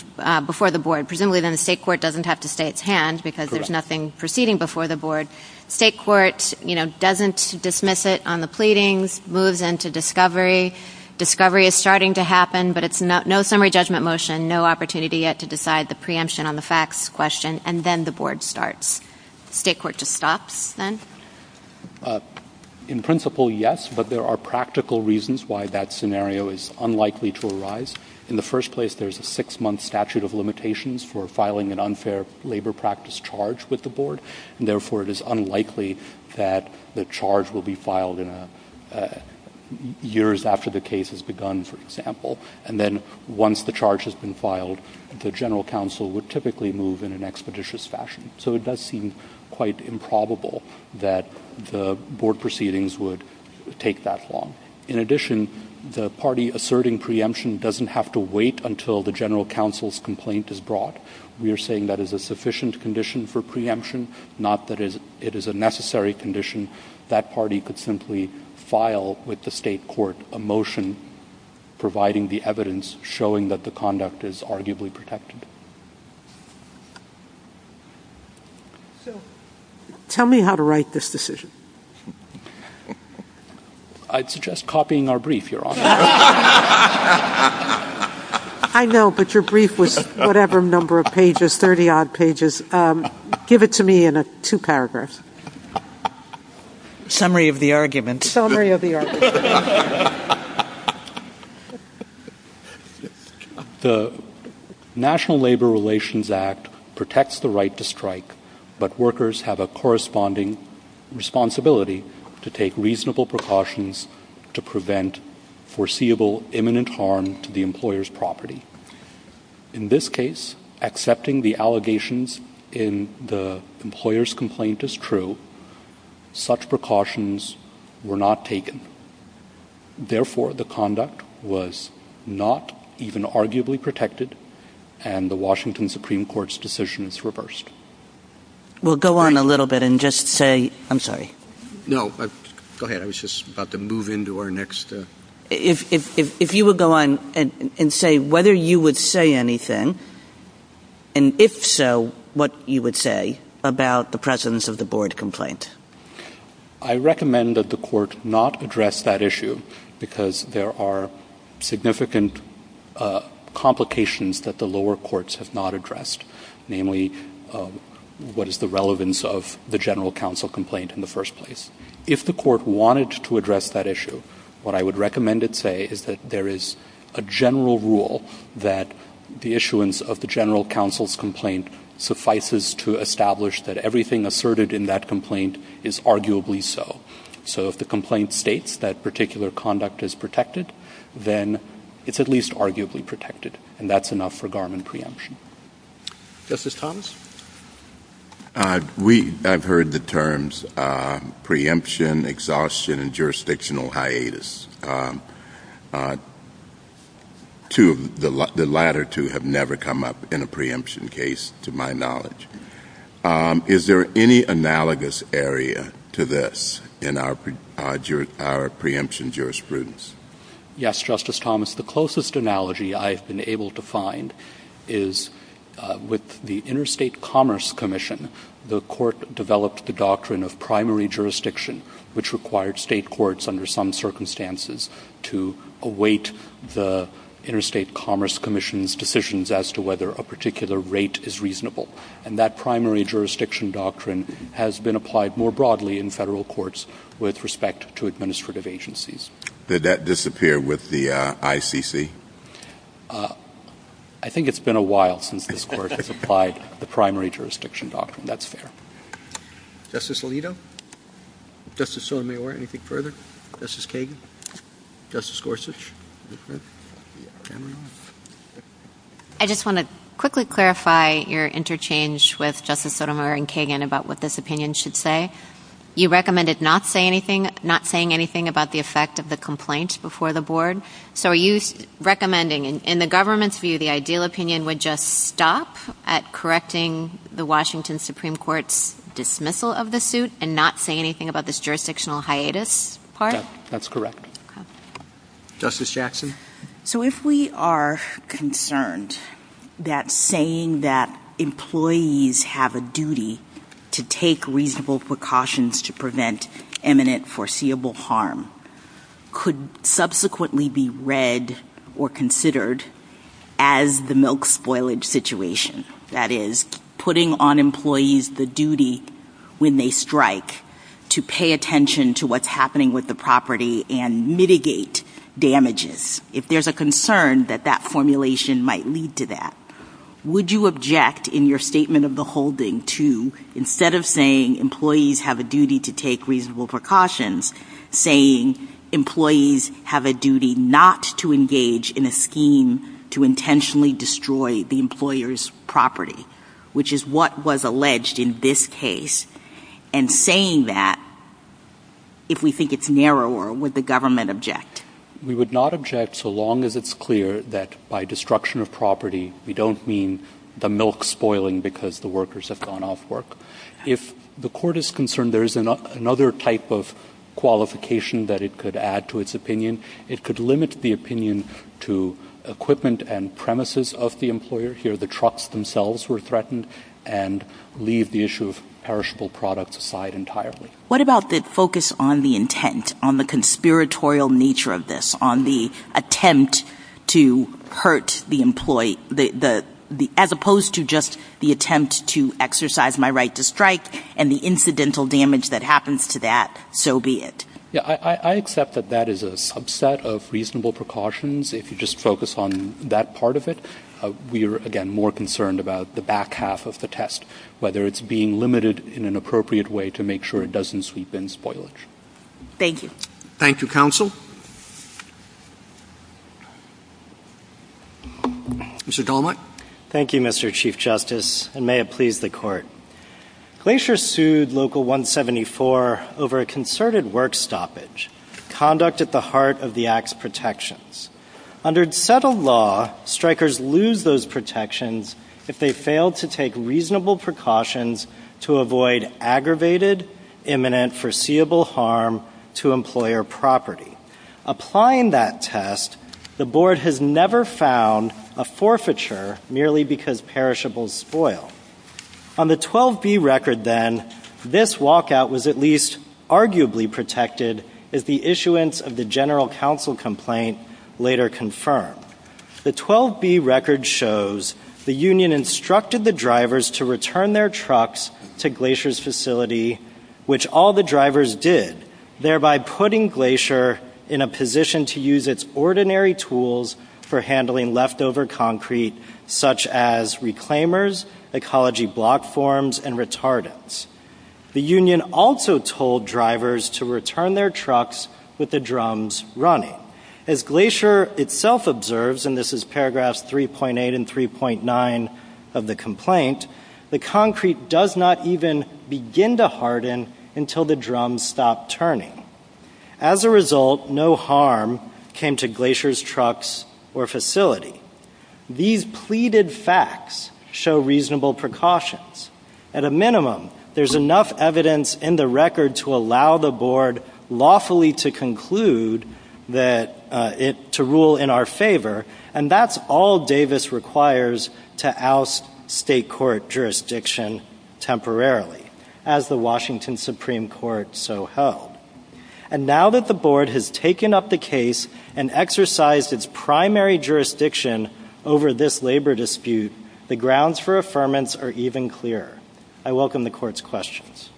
before the board? Presumably then the state court doesn't have to stay at hand because there's nothing proceeding before the board. State court, you know, doesn't dismiss it on the pleadings, moves into discovery. Discovery is starting to happen, but it's no summary judgment motion, no opportunity yet to decide the preemption on the facts question, and then the board starts. State court just stops then? In principle, yes, but there are practical reasons why that scenario is unlikely to arise. In the first place, there's a six-month statute of limitations for filing an unfair labor practice charge with the board, and therefore it is unlikely that the charge will be filed in years after the case has begun, for example. And then once the charge has been filed, the general counsel would typically move in an expeditious fashion. So it does seem quite improbable that the board proceedings would take that long. In addition, the party asserting preemption doesn't have to wait until the general counsel's complaint is brought. We are saying that is a sufficient condition for preemption, not that it is a necessary condition. That party could simply file with the state court a motion providing the evidence, showing that the conduct is arguably protected. Tell me how to write this decision. I suggest copying our brief, Your Honor. I know, but your brief was whatever number of pages, 30-odd pages. Give it to me in two paragraphs. Summary of the argument. Summary of the argument. The National Labor Relations Act protects the right to strike, but workers have a corresponding responsibility to take reasonable precautions to prevent foreseeable imminent harm to the employer's property. In this case, accepting the allegations in the employer's complaint is true. Such precautions were not taken. Therefore, the conduct was not even arguably protected, and the Washington Supreme Court's decision is reversed. We'll go on a little bit and just say... I'm sorry. No, go ahead. I was just about to move into our next... If you would go on and say whether you would say anything, and if so, what you would say about the presence of the board complaint. I recommend that the court not address that issue because there are significant complications that the lower courts have not addressed, namely what is the relevance of the general counsel complaint in the first place. If the court wanted to address that issue, what I would recommend it say is that there is a general rule that the issuance of the general counsel's complaint suffices to establish that everything asserted in that complaint is arguably so. So if the complaint states that particular conduct is protected, then it's at least arguably protected, and that's enough for Garland preemption. Justice Thomas? We have heard the terms preemption, exhaustion, and jurisdictional hiatus. The latter two have never come up in a preemption case, to my knowledge. Is there any analogous area to this in our preemption jurisprudence? Yes, Justice Thomas. The closest analogy I have been able to find is with the Interstate Commerce Commission. The court developed the doctrine of primary jurisdiction, which required state courts under some circumstances to await the Interstate Commerce Commission's decisions as to whether a particular rate is reasonable, and that primary jurisdiction doctrine has been applied more broadly in federal courts with respect to administrative agencies. Did that disappear with the ICC? I think it's been a while since this court has applied the primary jurisdiction doctrine. That's fair. Justice Alito? Justice Sotomayor, anything further? Justice Kagan? Justice Gorsuch? I just want to quickly clarify your interchange with Justice Sotomayor and Kagan about what this opinion should say. You recommended not saying anything about the effect of the complaint before the board. So are you recommending, in the government's view, the ideal opinion would just stop at correcting the Washington Supreme Court's dismissal of the suit and not say anything about this jurisdictional hiatus part? That's correct. Justice Jackson? So if we are concerned that saying that employees have a duty to take reasonable precautions to prevent imminent foreseeable harm could subsequently be read or considered as the milk spoilage situation, that is, putting on employees the duty when they strike to pay attention to what's happening with the property and mitigate damages, if there's a concern that that formulation might lead to that, would you object in your statement of the holding to, instead of saying employees have a duty to take reasonable precautions, saying employees have a duty not to engage in a scheme to intentionally destroy the employer's property, which is what was alleged in this case, and saying that, if we think it's narrower, would the government object? We would not object so long as it's clear that by destruction of property we don't mean the milk spoiling because the workers have gone off work. If the court is concerned there is another type of qualification that it could add to its opinion, it could limit the opinion to equipment and premises of the employer. Here the trucks themselves were threatened and leave the issue of perishable products aside entirely. What about the focus on the intent, on the conspiratorial nature of this, on the attempt to hurt the employee, as opposed to just the attempt to exercise my right to strike and the incidental damage that happens to that, so be it. I accept that that is a subset of reasonable precautions, if you just focus on that part of it. We are, again, more concerned about the back half of the test, whether it's being limited in an appropriate way to make sure it doesn't sweep in spoilage. Thank you. Thank you, counsel. Mr. Dolmott. Thank you, Mr. Chief Justice, and may it please the court. Glacier sued Local 174 over a concerted work stoppage, conduct at the heart of the act's protections. Under settled law, strikers lose those protections if they fail to take reasonable precautions to avoid aggravated, imminent, foreseeable harm to employer property. Applying that test, the board has never found a forfeiture merely because perishables spoil. On the 12B record, then, this walkout was at least arguably protected as the issuance of the general counsel complaint later confirmed. The 12B record shows the union instructed the drivers to return their trucks to Glacier's facility, which all the drivers did, thereby putting Glacier in a position to use its ordinary tools for handling leftover concrete, such as reclaimers, ecology block forms, and retardants. The union also told drivers to return their trucks with the drums running. As Glacier itself observes, and this is paragraphs 3.8 and 3.9 of the complaint, the concrete does not even begin to harden until the drums stop turning. As a result, no harm came to Glacier's trucks or facility. These pleaded facts show reasonable precautions. At a minimum, there's enough evidence in the record to allow the board lawfully to conclude that it to rule in our favor, and that's all Davis requires to oust state court jurisdiction temporarily, as the Washington Supreme Court so hoped. And now that the board has taken up the case and exercised its primary jurisdiction over this labor dispute, the grounds for affirmance are even clearer. I welcome the court's questions.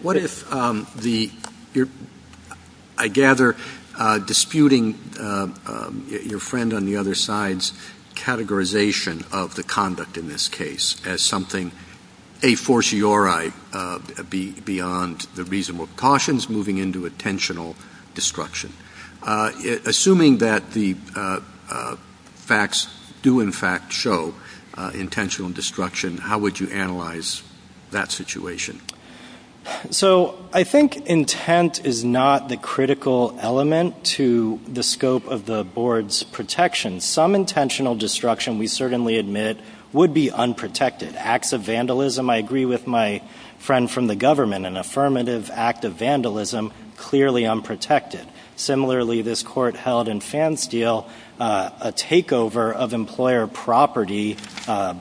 What if I gather disputing your friend on the other side's categorization of the conduct in this case as something a fortiori beyond the reasonable cautions moving into intentional destruction. Assuming that the facts do in fact show intentional destruction, how would you analyze that situation? So I think intent is not the critical element to the scope of the board's protection. Some intentional destruction, we certainly admit, would be unprotected. Acts of vandalism, I agree with my friend from the government, an affirmative act of vandalism, clearly unprotected. Similarly, this court held in Fansteel a takeover of employer property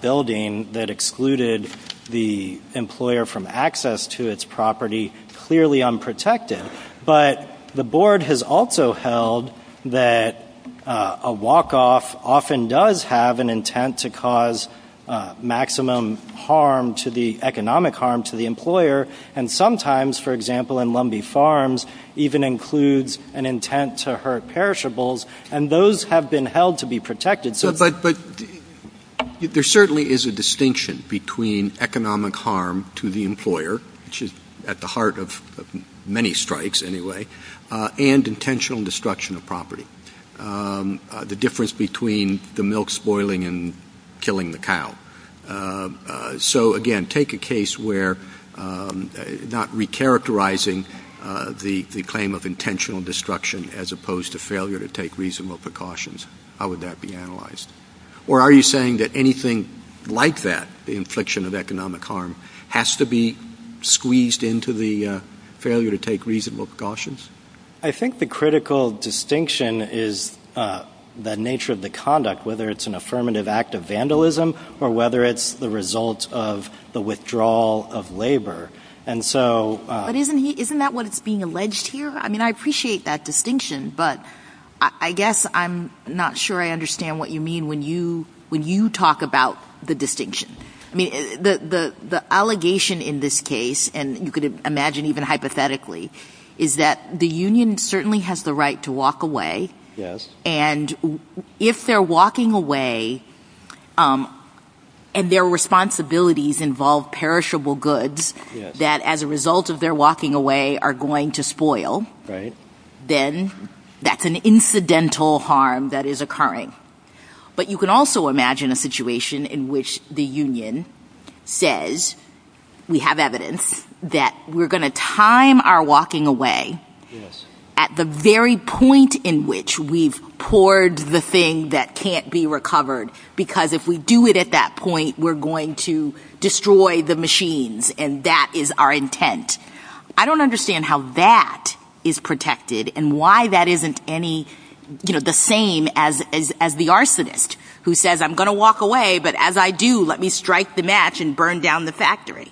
building that excluded the employer from access to its property, clearly unprotected. But the board has also held that a walk-off often does have an intent to cause maximum harm, to the economic harm to the employer, and sometimes, for example, in Lumbee Farms, even includes an intent to hurt perishables, and those have been held to be protected. But there certainly is a distinction between economic harm to the employer, which is at the heart of many strikes anyway, and intentional destruction of property. The difference between the milk spoiling and killing the cow. So again, take a case where not recharacterizing the claim of intentional destruction as opposed to failure to take reasonable precautions. How would that be analyzed? Or are you saying that anything like that, the infliction of economic harm, has to be squeezed into the failure to take reasonable precautions? I think the critical distinction is the nature of the conduct, whether it's an affirmative act of vandalism or whether it's the result of the withdrawal of labor. Isn't that what's being alleged here? I appreciate that distinction, but I guess I'm not sure I understand what you mean when you talk about the distinction. The allegation in this case, and you could imagine even hypothetically, is that the union certainly has the right to walk away, and if they're walking away and their responsibilities involve perishable goods that as a result of their walking away are going to spoil, then that's an incidental harm that is occurring. But you can also imagine a situation in which the union says, we have evidence, that we're going to time our walking away at the very point in which we've poured the thing that can't be recovered because if we do it at that point, we're going to destroy the machines, and that is our intent. I don't understand how that is protected and why that isn't the same as the arsonist who says, I'm going to walk away, but as I do, let me strike the match and burn down the factory.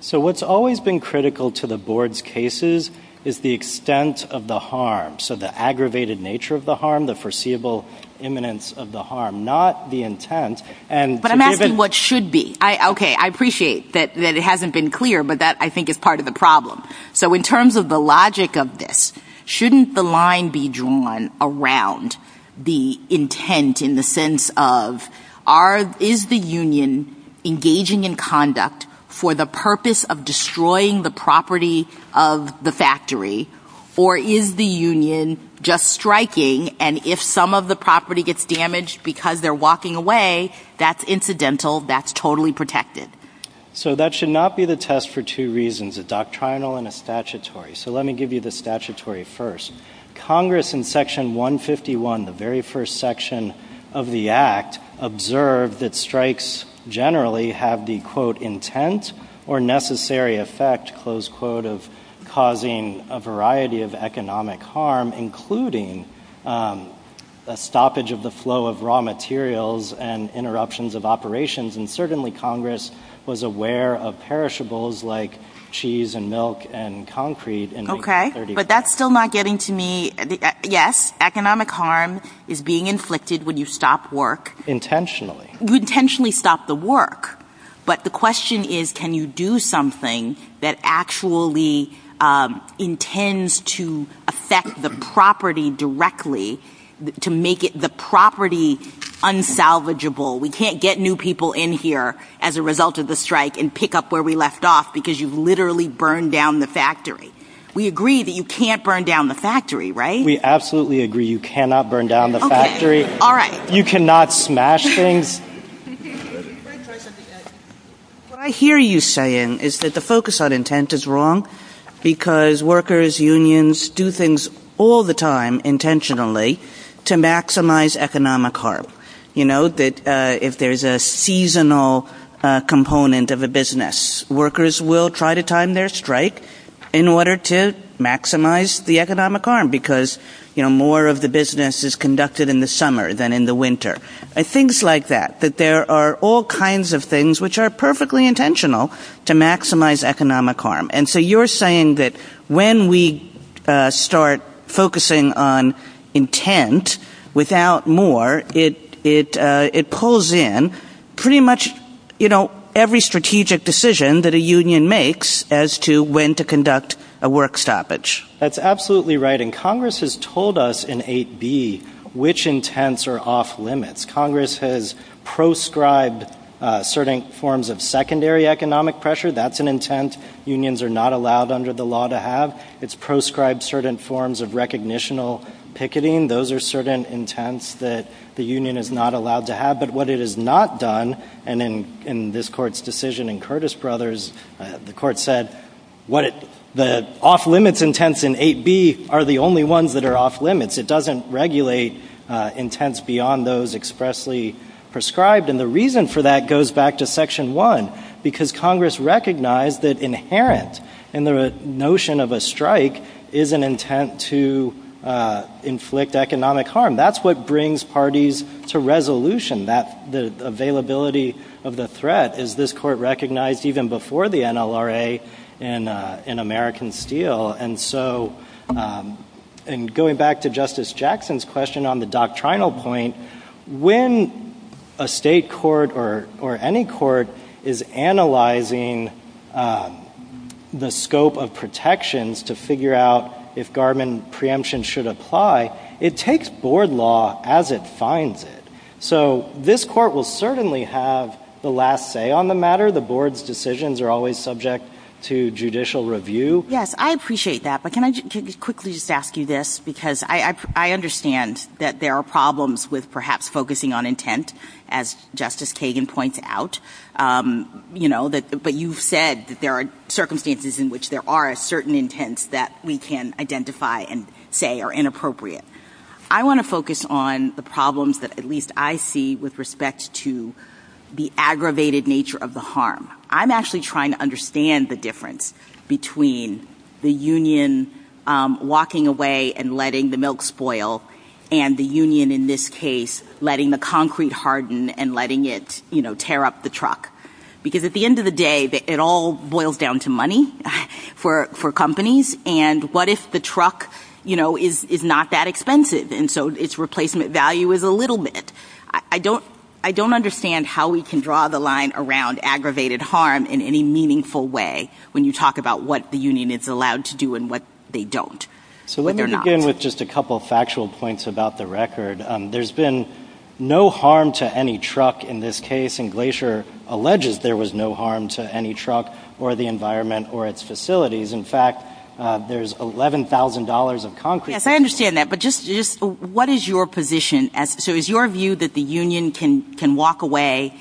So what's always been critical to the board's cases is the extent of the harm, so the aggravated nature of the harm, the foreseeable imminence of the harm, not the intent. But I'm asking what should be. Okay, I appreciate that it hasn't been clear, but that I think is part of the problem. So in terms of the logic of this, shouldn't the line be drawn around the intent in the sense of, is the union engaging in conduct for the purpose of destroying the property of the factory, or is the union just striking, and if some of the property gets damaged because they're walking away, that's incidental, that's totally protected? So that should not be the test for two reasons, a doctrinal and a statutory. So let me give you the statutory first. Congress in Section 151, the very first section of the Act, observed that strikes generally have the, quote, intent or necessary effect, close quote, of causing a variety of economic harm, including a stoppage of the flow of raw materials and interruptions of operations, and certainly Congress was aware of perishables like cheese and milk and concrete. Okay, but that's still not getting to me. Yes, economic harm is being inflicted when you stop work. Intentionally. You intentionally stop the work, but the question is can you do something that actually intends to affect the property directly, to make the property unsalvageable. We can't get new people in here as a result of the strike and pick up where we left off because you've literally burned down the factory. We agree that you can't burn down the factory, right? We absolutely agree you cannot burn down the factory. Okay, all right. You cannot smash things. What I hear you saying is that the focus on intent is wrong because workers, unions do things all the time intentionally to maximize economic harm. You know, that if there's a seasonal component of a business, workers will try to time their strike in order to maximize the economic harm because more of the business is conducted in the summer than in the winter, and things like that, that there are all kinds of things which are perfectly intentional to maximize economic harm. And so you're saying that when we start focusing on intent without more, it pulls in pretty much every strategic decision that a union makes as to when to conduct a work stoppage. That's absolutely right, and Congress has told us in 8B which intents are off limits. Congress has proscribed certain forms of secondary economic pressure. That's an intent unions are not allowed under the law to have. Those are certain intents that the union is not allowed to have. But what it has not done, and in this Court's decision in Curtis Brothers, the Court said the off-limits intents in 8B are the only ones that are off-limits. It doesn't regulate intents beyond those expressly proscribed, and the reason for that goes back to Section 1 because Congress recognized that inherent in the notion of a strike is an intent to inflict economic harm. That's what brings parties to resolution, the availability of the threat, as this Court recognized even before the NLRA in American Steel. And going back to Justice Jackson's question on the doctrinal point, when a state court or any court is analyzing the scope of protections to figure out if Garmin preemption should apply, it takes board law as it finds it. So this Court will certainly have the last say on the matter. The board's decisions are always subject to judicial review. Yes, I appreciate that, but can I quickly just ask you this because I understand that there are problems with perhaps focusing on intent, as Justice Kagan points out, you know, that we can identify and say are inappropriate. I want to focus on the problems that at least I see with respect to the aggravated nature of the harm. I'm actually trying to understand the difference between the union walking away and letting the milk spoil and the union in this case letting the concrete harden and letting it, you know, tear up the truck. Because at the end of the day, it all boils down to money for companies and what if the truck, you know, is not that expensive and so its replacement value is a little bit. I don't understand how we can draw the line around aggravated harm in any meaningful way when you talk about what the union is allowed to do and what they don't. So let me begin with just a couple of factual points about the record. There's been no harm to any truck in this case and Glacier alleges there was no harm to any truck or the environment or its facilities. In fact, there's $11,000 of concrete. Yes, I understand that, but just what is your position? So is your view that the union can walk away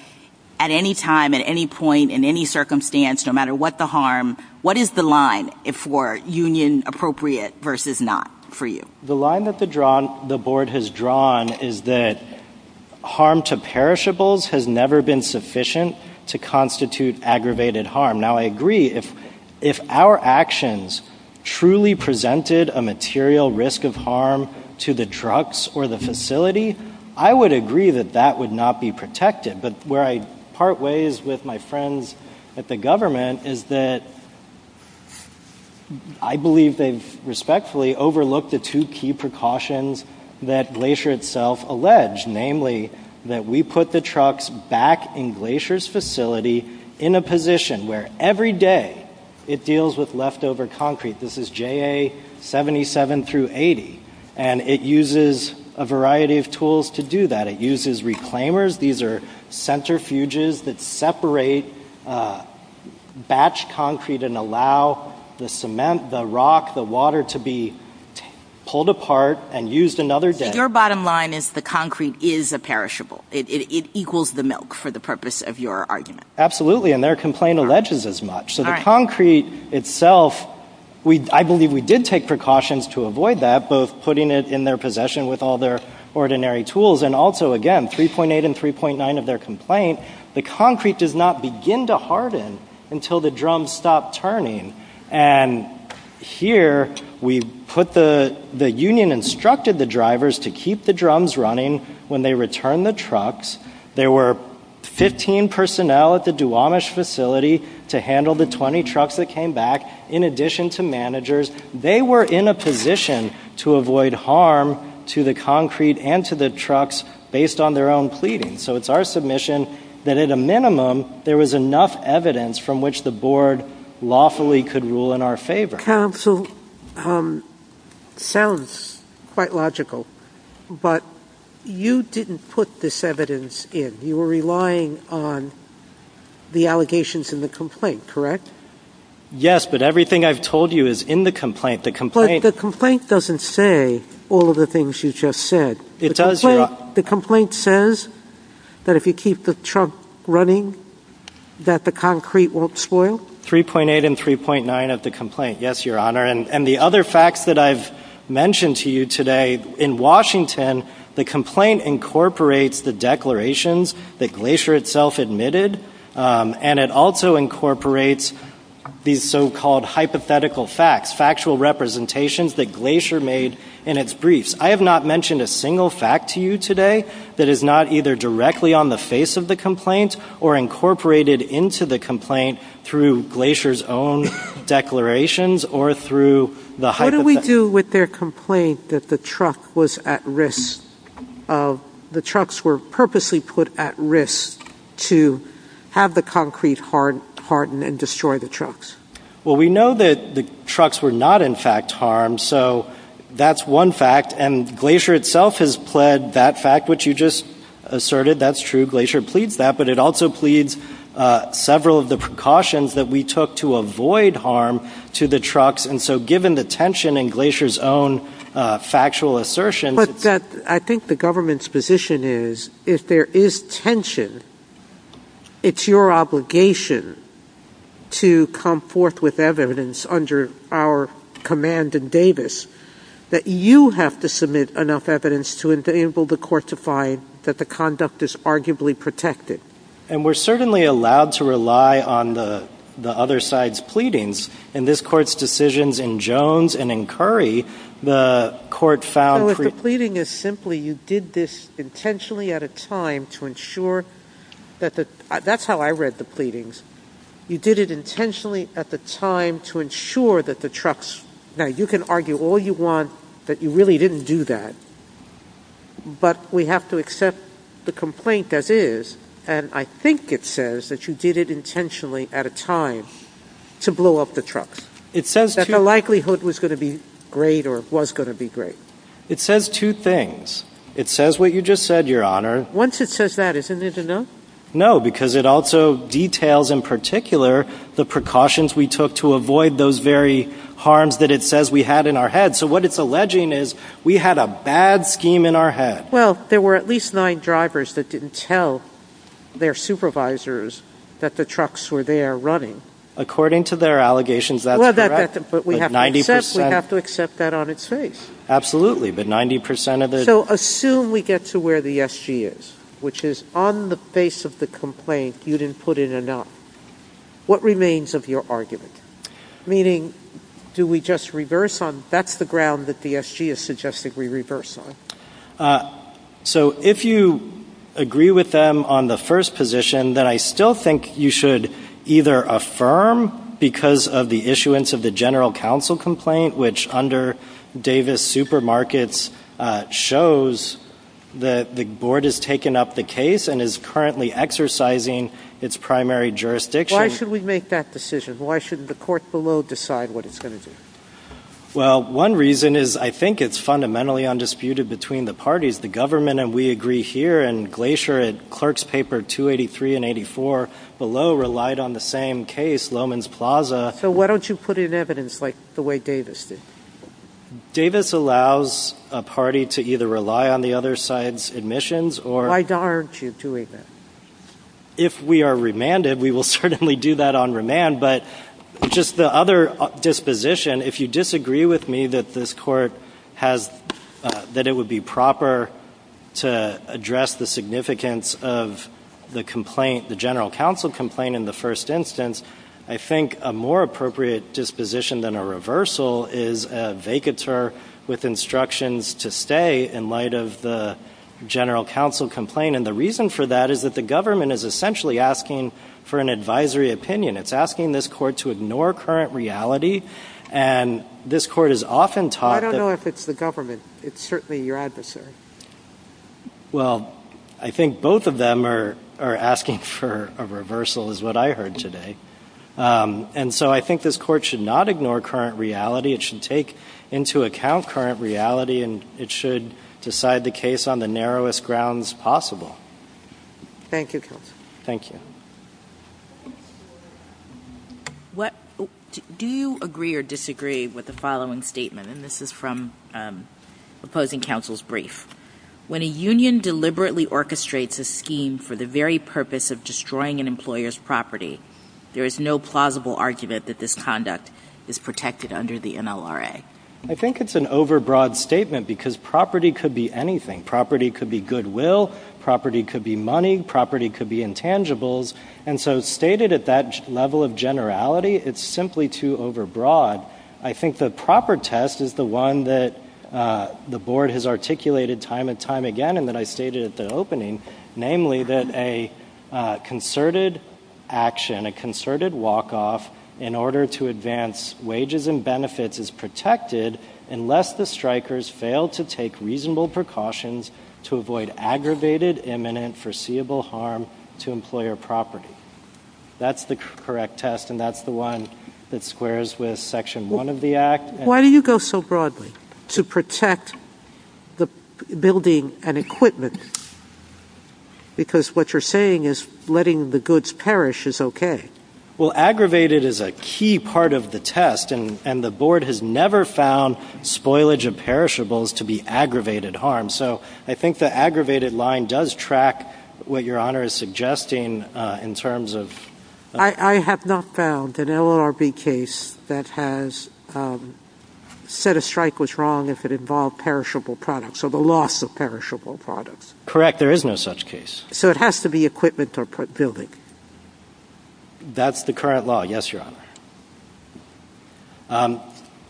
at any time, at any point, in any circumstance, no matter what the harm? What is the line for union appropriate versus not for you? The line that the board has drawn is that harm to perishables has never been sufficient to constitute aggravated harm. Now, I agree if our actions truly presented a material risk of harm to the trucks or the facility, I would agree that that would not be protected, but where I part ways with my friends at the government is that I believe they've respectfully overlooked the two key precautions that Glacier itself alleged, namely that we put the trucks back in Glacier's facility in a position where every day it deals with leftover concrete. This is JA 77 through 80, and it uses a variety of tools to do that. It uses reclaimers. These are centrifuges that separate batch concrete and allow the cement, the rock, the water to be pulled apart and used another day. Your bottom line is the concrete is a perishable. It equals the milk for the purpose of your argument. Absolutely, and their complaint alleges as much. So the concrete itself, I believe we did take precautions to avoid that, both putting it in their possession with all their ordinary tools, and also, again, 3.8 and 3.9 of their complaint, the concrete does not begin to harden until the drums stop turning, and here we put the union instructed the drivers to keep the drums running when they returned the trucks. There were 15 personnel at the Duwamish facility to handle the 20 trucks that came back in addition to managers. They were in a position to avoid harm to the concrete and to the trucks based on their own pleading. So it's our submission that at a minimum there was enough evidence from which the board lawfully could rule in our favor. Counsel, it sounds quite logical, but you didn't put this evidence in. You were relying on the allegations in the complaint, correct? Yes, but everything I've told you is in the complaint. But the complaint doesn't say all of the things you just said. The complaint says that if you keep the truck running that the concrete won't spoil. 3.8 and 3.9 of the complaint, yes, Your Honor. And the other facts that I've mentioned to you today, in Washington the complaint incorporates the declarations that Glacier itself admitted, and it also incorporates these so-called hypothetical facts, factual representations that Glacier made in its briefs. I have not mentioned a single fact to you today that is not either directly on the face of the complaint or incorporated into the complaint through Glacier's own declarations or through the hypothetical facts. How do we do with their complaint that the trucks were purposely put at risk to have the concrete harden and destroy the trucks? Well, we know that the trucks were not in fact harmed, so that's one fact. And Glacier itself has pled that fact, which you just asserted. That's true. Glacier pleads that. But it also pleads several of the precautions that we took to avoid harm to the trucks. And so given the tension in Glacier's own factual assertion... But I think the government's position is if there is tension, it's your obligation to come forth with evidence under our command in Davis that you have to submit enough evidence to enable the court to find that the conduct is arguably protected. And we're certainly allowed to rely on the other side's pleadings. In this court's decisions in Jones and in Curry, the court found... No, the pleading is simply you did this intentionally at a time to ensure that the... That's how I read the pleadings. You did it intentionally at the time to ensure that the trucks... Now, you can argue all you want that you really didn't do that, but we have to accept the complaint as is, and I think it says that you did it intentionally at a time to blow up the trucks. That the likelihood was going to be great or was going to be great. It says two things. It says what you just said, Your Honor. Once it says that, isn't it enough? No, because it also details in particular the precautions we took to avoid those very harms that it says we had in our head. So what it's alleging is we had a bad scheme in our head. Well, there were at least nine drivers that didn't tell their supervisors that the trucks were there running. According to their allegations, that's correct. But we have to accept that on its face. Absolutely, but 90% of the... So assume we get to where the SG is, which is on the face of the complaint you didn't put in enough. What remains of your argument? Meaning do we just reverse on... That's the ground that the SG is suggesting we reverse on. So if you agree with them on the first position, then I still think you should either affirm because of the issuance of the general counsel complaint, which under Davis Supermarkets shows that the board has taken up the case and is currently exercising its primary jurisdiction. Why should we make that decision? Why shouldn't the court below decide what it's going to do? Well, one reason is I think it's fundamentally undisputed between the parties. The government, and we agree here in Glacier, in clerk's paper 283 and 84 below relied on the same case, Loman's Plaza. So why don't you put in evidence like the way Davis did? Davis allows a party to either rely on the other side's admissions or... Why aren't you doing that? If we are remanded, we will certainly do that on remand, but just the other disposition, if you disagree with me that this court has, that it would be proper to address the significance of the complaint, the general counsel complaint in the first instance, I think a more appropriate disposition than a reversal is a vacatur with instructions to stay in light of the general counsel complaint. And the reason for that is that the government is essentially asking for an advisory opinion. It's asking this court to ignore current reality, and this court is often taught... I don't know if it's the government. It's certainly your adversary. Well, I think both of them are asking for a reversal is what I heard today. And so I think this court should not ignore current reality. It should take into account current reality, and it should decide the case on the narrowest grounds possible. Thank you, counsel. Thank you. Do you agree or disagree with the following statement? And this is from opposing counsel's brief. When a union deliberately orchestrates a scheme for the very purpose of destroying an employer's property, there is no plausible argument that this conduct is protected under the NLRA. I think it's an overbroad statement because property could be anything. Property could be goodwill. Property could be money. Property could be intangibles. And so stated at that level of generality, it's simply too overbroad. I think the proper test is the one that the board has articulated time and time again and that I stated at the opening, namely that a concerted action, and a concerted walk-off in order to advance wages and benefits is protected unless the strikers fail to take reasonable precautions to avoid aggravated, imminent, foreseeable harm to employer property. That's the correct test, and that's the one that squares with Section 1 of the Act. Why do you go so broadly to protect the building and equipment? Because what you're saying is letting the goods perish is okay. Well, aggravated is a key part of the test, and the board has never found spoilage of perishables to be aggravated harm. So I think the aggravated line does track what Your Honor is suggesting in terms of ---- I have not found an LRB case that has said a strike was wrong if it involved perishable products or the loss of perishable products. Correct. There is no such case. So it has to be equipment or building. That's the current law. Yes, Your Honor.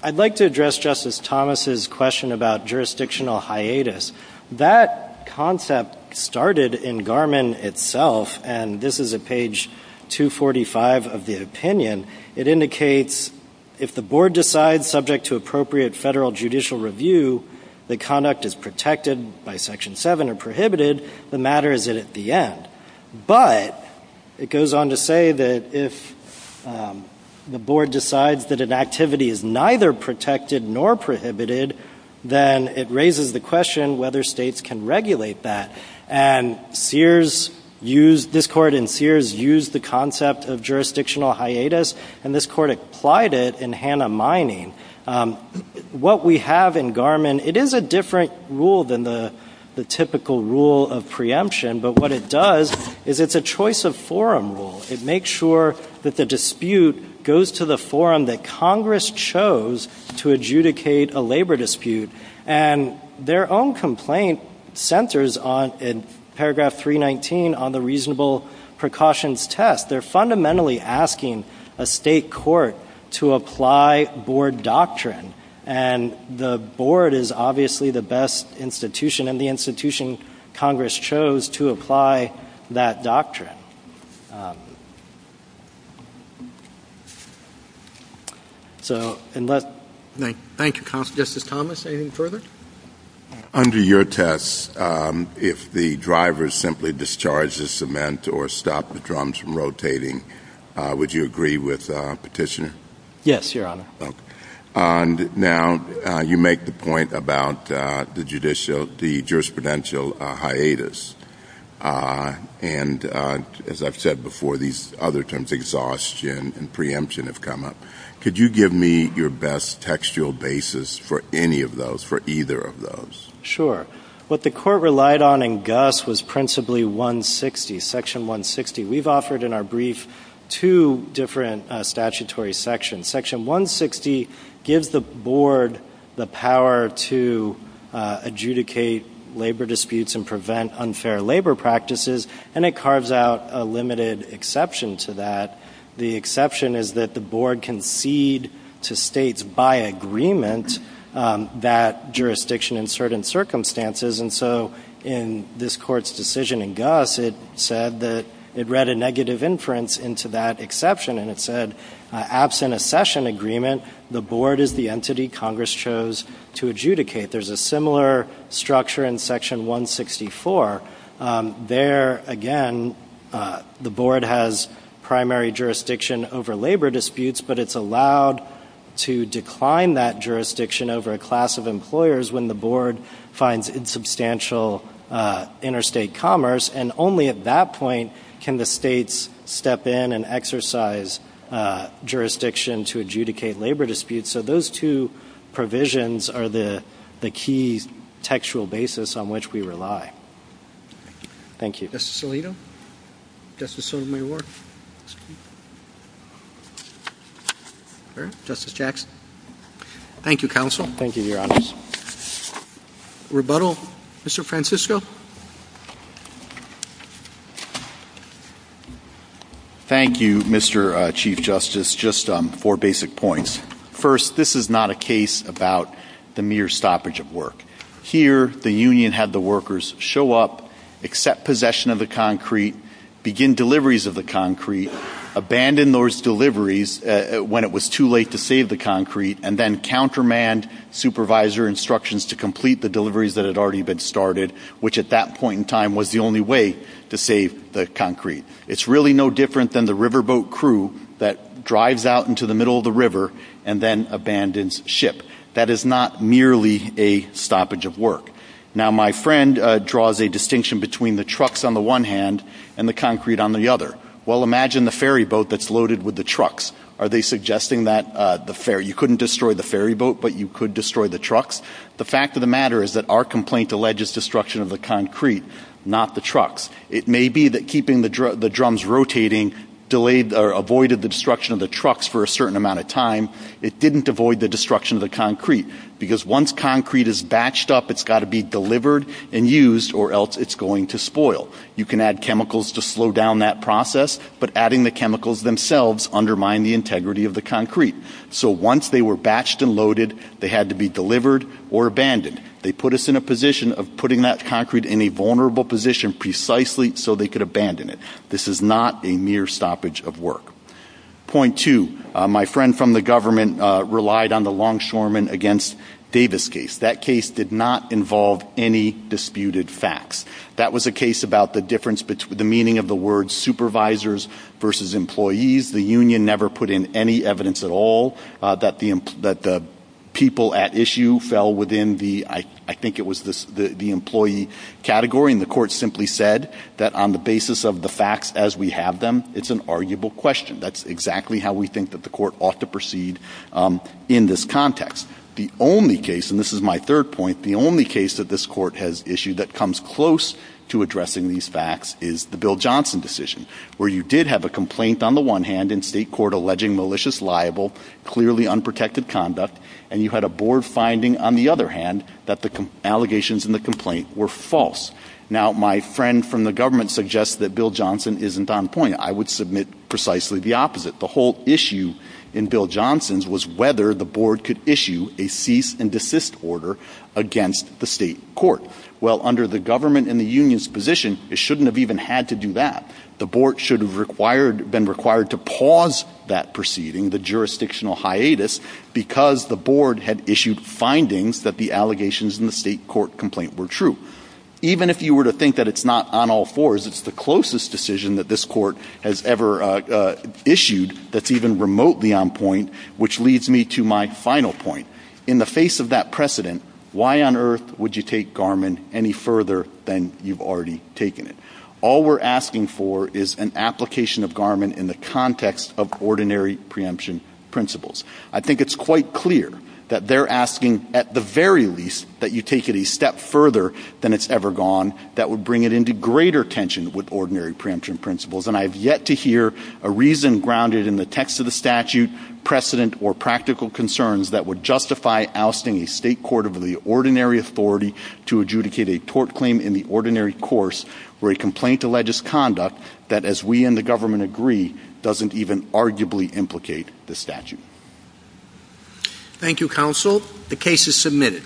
I'd like to address Justice Thomas' question about jurisdictional hiatus. That concept started in Garmin itself, and this is at page 245 of the opinion. It indicates if the board decides subject to appropriate federal judicial review that conduct is protected by Section 7 or prohibited, the matter is at the end. But it goes on to say that if the board decides that an activity is neither protected nor prohibited, then it raises the question whether states can regulate that. And this Court in Sears used the concept of jurisdictional hiatus, and this Court applied it in Hannah Mining. What we have in Garmin, it is a different rule than the typical rule of preemption, but what it does is it's a choice of forum rule. It makes sure that the dispute goes to the forum that Congress chose to adjudicate a labor dispute. And their own complaint centers in paragraph 319 on the reasonable precautions test. They're fundamentally asking a state court to apply board doctrine, and the board is obviously the best institution and the institution Congress chose to apply that doctrine. Thank you, Justice Thomas. Anything further? Under your test, if the driver simply discharges the cement or stops the drums from rotating, would you agree with Petitioner? Yes, Your Honor. Okay. Now, you make the point about the jurisdictional hiatus, and as I've said before, these other terms, exhaustion and preemption, have come up. Could you give me your best textual basis for any of those, for either of those? Sure. What the Court relied on in Gus was principally 160, Section 160. We've offered in our brief two different statutory sections. Section 160 gives the board the power to adjudicate labor disputes and prevent unfair labor practices, and it carves out a limited exception to that. The exception is that the board can cede to states by agreement that jurisdiction in certain circumstances, and so in this Court's decision in Gus, it said that it read a negative inference into that exception, and it said absent a session agreement, the board is the entity Congress chose to adjudicate. There's a similar structure in Section 164. There, again, the board has primary jurisdiction over labor disputes, but it's allowed to decline that jurisdiction over a class of employers when the board finds insubstantial interstate commerce, and only at that point can the states step in and exercise jurisdiction to adjudicate labor disputes. So those two provisions are the key textual basis on which we rely. Thank you. Justice Alito? Justice Sotomayor? Justice Jackson? Thank you, Counsel. Thank you, Your Honor. Rebuttal, Mr. Francisco? Thank you, Mr. Chief Justice. Just four basic points. First, this is not a case about the mere stoppage of work. Here, the union had the workers show up, accept possession of the concrete, begin deliveries of the concrete, abandon those deliveries when it was too late to save the concrete, and then countermand supervisor instructions to complete the deliveries that had already been started, which at that point in time was the only way to save the concrete. It's really no different than the riverboat crew that drives out into the middle of the river and then abandons ship. That is not merely a stoppage of work. Now, my friend draws a distinction between the trucks on the one hand and the concrete on the other. Well, imagine the ferry boat that's loaded with the trucks. Are they suggesting that you couldn't destroy the ferry boat, but you could destroy the trucks? The fact of the matter is that our complaint alleges destruction of the concrete, not the trucks. It may be that keeping the drums rotating delayed or avoided the destruction of the trucks for a certain amount of time. It didn't avoid the destruction of the concrete because once concrete is batched up, it's got to be delivered and used or else it's going to spoil. You can add chemicals to slow down that process, but adding the chemicals themselves undermine the integrity of the concrete. So once they were batched and loaded, they had to be delivered or abandoned. They put us in a position of putting that concrete in a vulnerable position precisely so they could abandon it. This is not a mere stoppage of work. Point two, my friend from the government relied on the Longshoremen against Davis case. That case did not involve any disputed facts. That was a case about the difference between the meaning of the word supervisors versus employees. The union never put in any evidence at all that the people at issue fell within the, I think it was the employee category, and the court simply said that on the basis of the facts as we have them, it's an arguable question. That's exactly how we think that the court ought to proceed in this context. The only case, and this is my third point, the only case that this court has issued that comes close to addressing these facts is the Bill Johnson decision, where you did have a complaint on the one hand in state court alleging malicious, liable, clearly unprotected conduct, and you had a board finding on the other hand that the allegations in the complaint were false. Now my friend from the government suggests that Bill Johnson isn't on point. I would submit precisely the opposite. The whole issue in Bill Johnson's was whether the board could issue a cease and desist order against the state court. Well, under the government and the union's position, it shouldn't have even had to do that. The board should have been required to pause that proceeding, the jurisdictional hiatus, because the board had issued findings that the allegations in the state court complaint were true. Even if you were to think that it's not on all fours, it's the closest decision that this court has ever issued that's even remotely on point, which leads me to my final point. In the face of that precedent, why on earth would you take Garmin any further than you've already taken it? All we're asking for is an application of Garmin in the context of ordinary preemption principles. I think it's quite clear that they're asking at the very least that you take it a step further than it's ever gone, that would bring it into greater tension with ordinary preemption principles, and I've yet to hear a reason grounded in the text of the statute, precedent, or practical concerns that would justify ousting a state court of the ordinary authority to adjudicate a tort claim in the ordinary course where a complaint alleges conduct that, as we and the government agree, doesn't even arguably implicate the statute. Thank you, counsel. The case is submitted.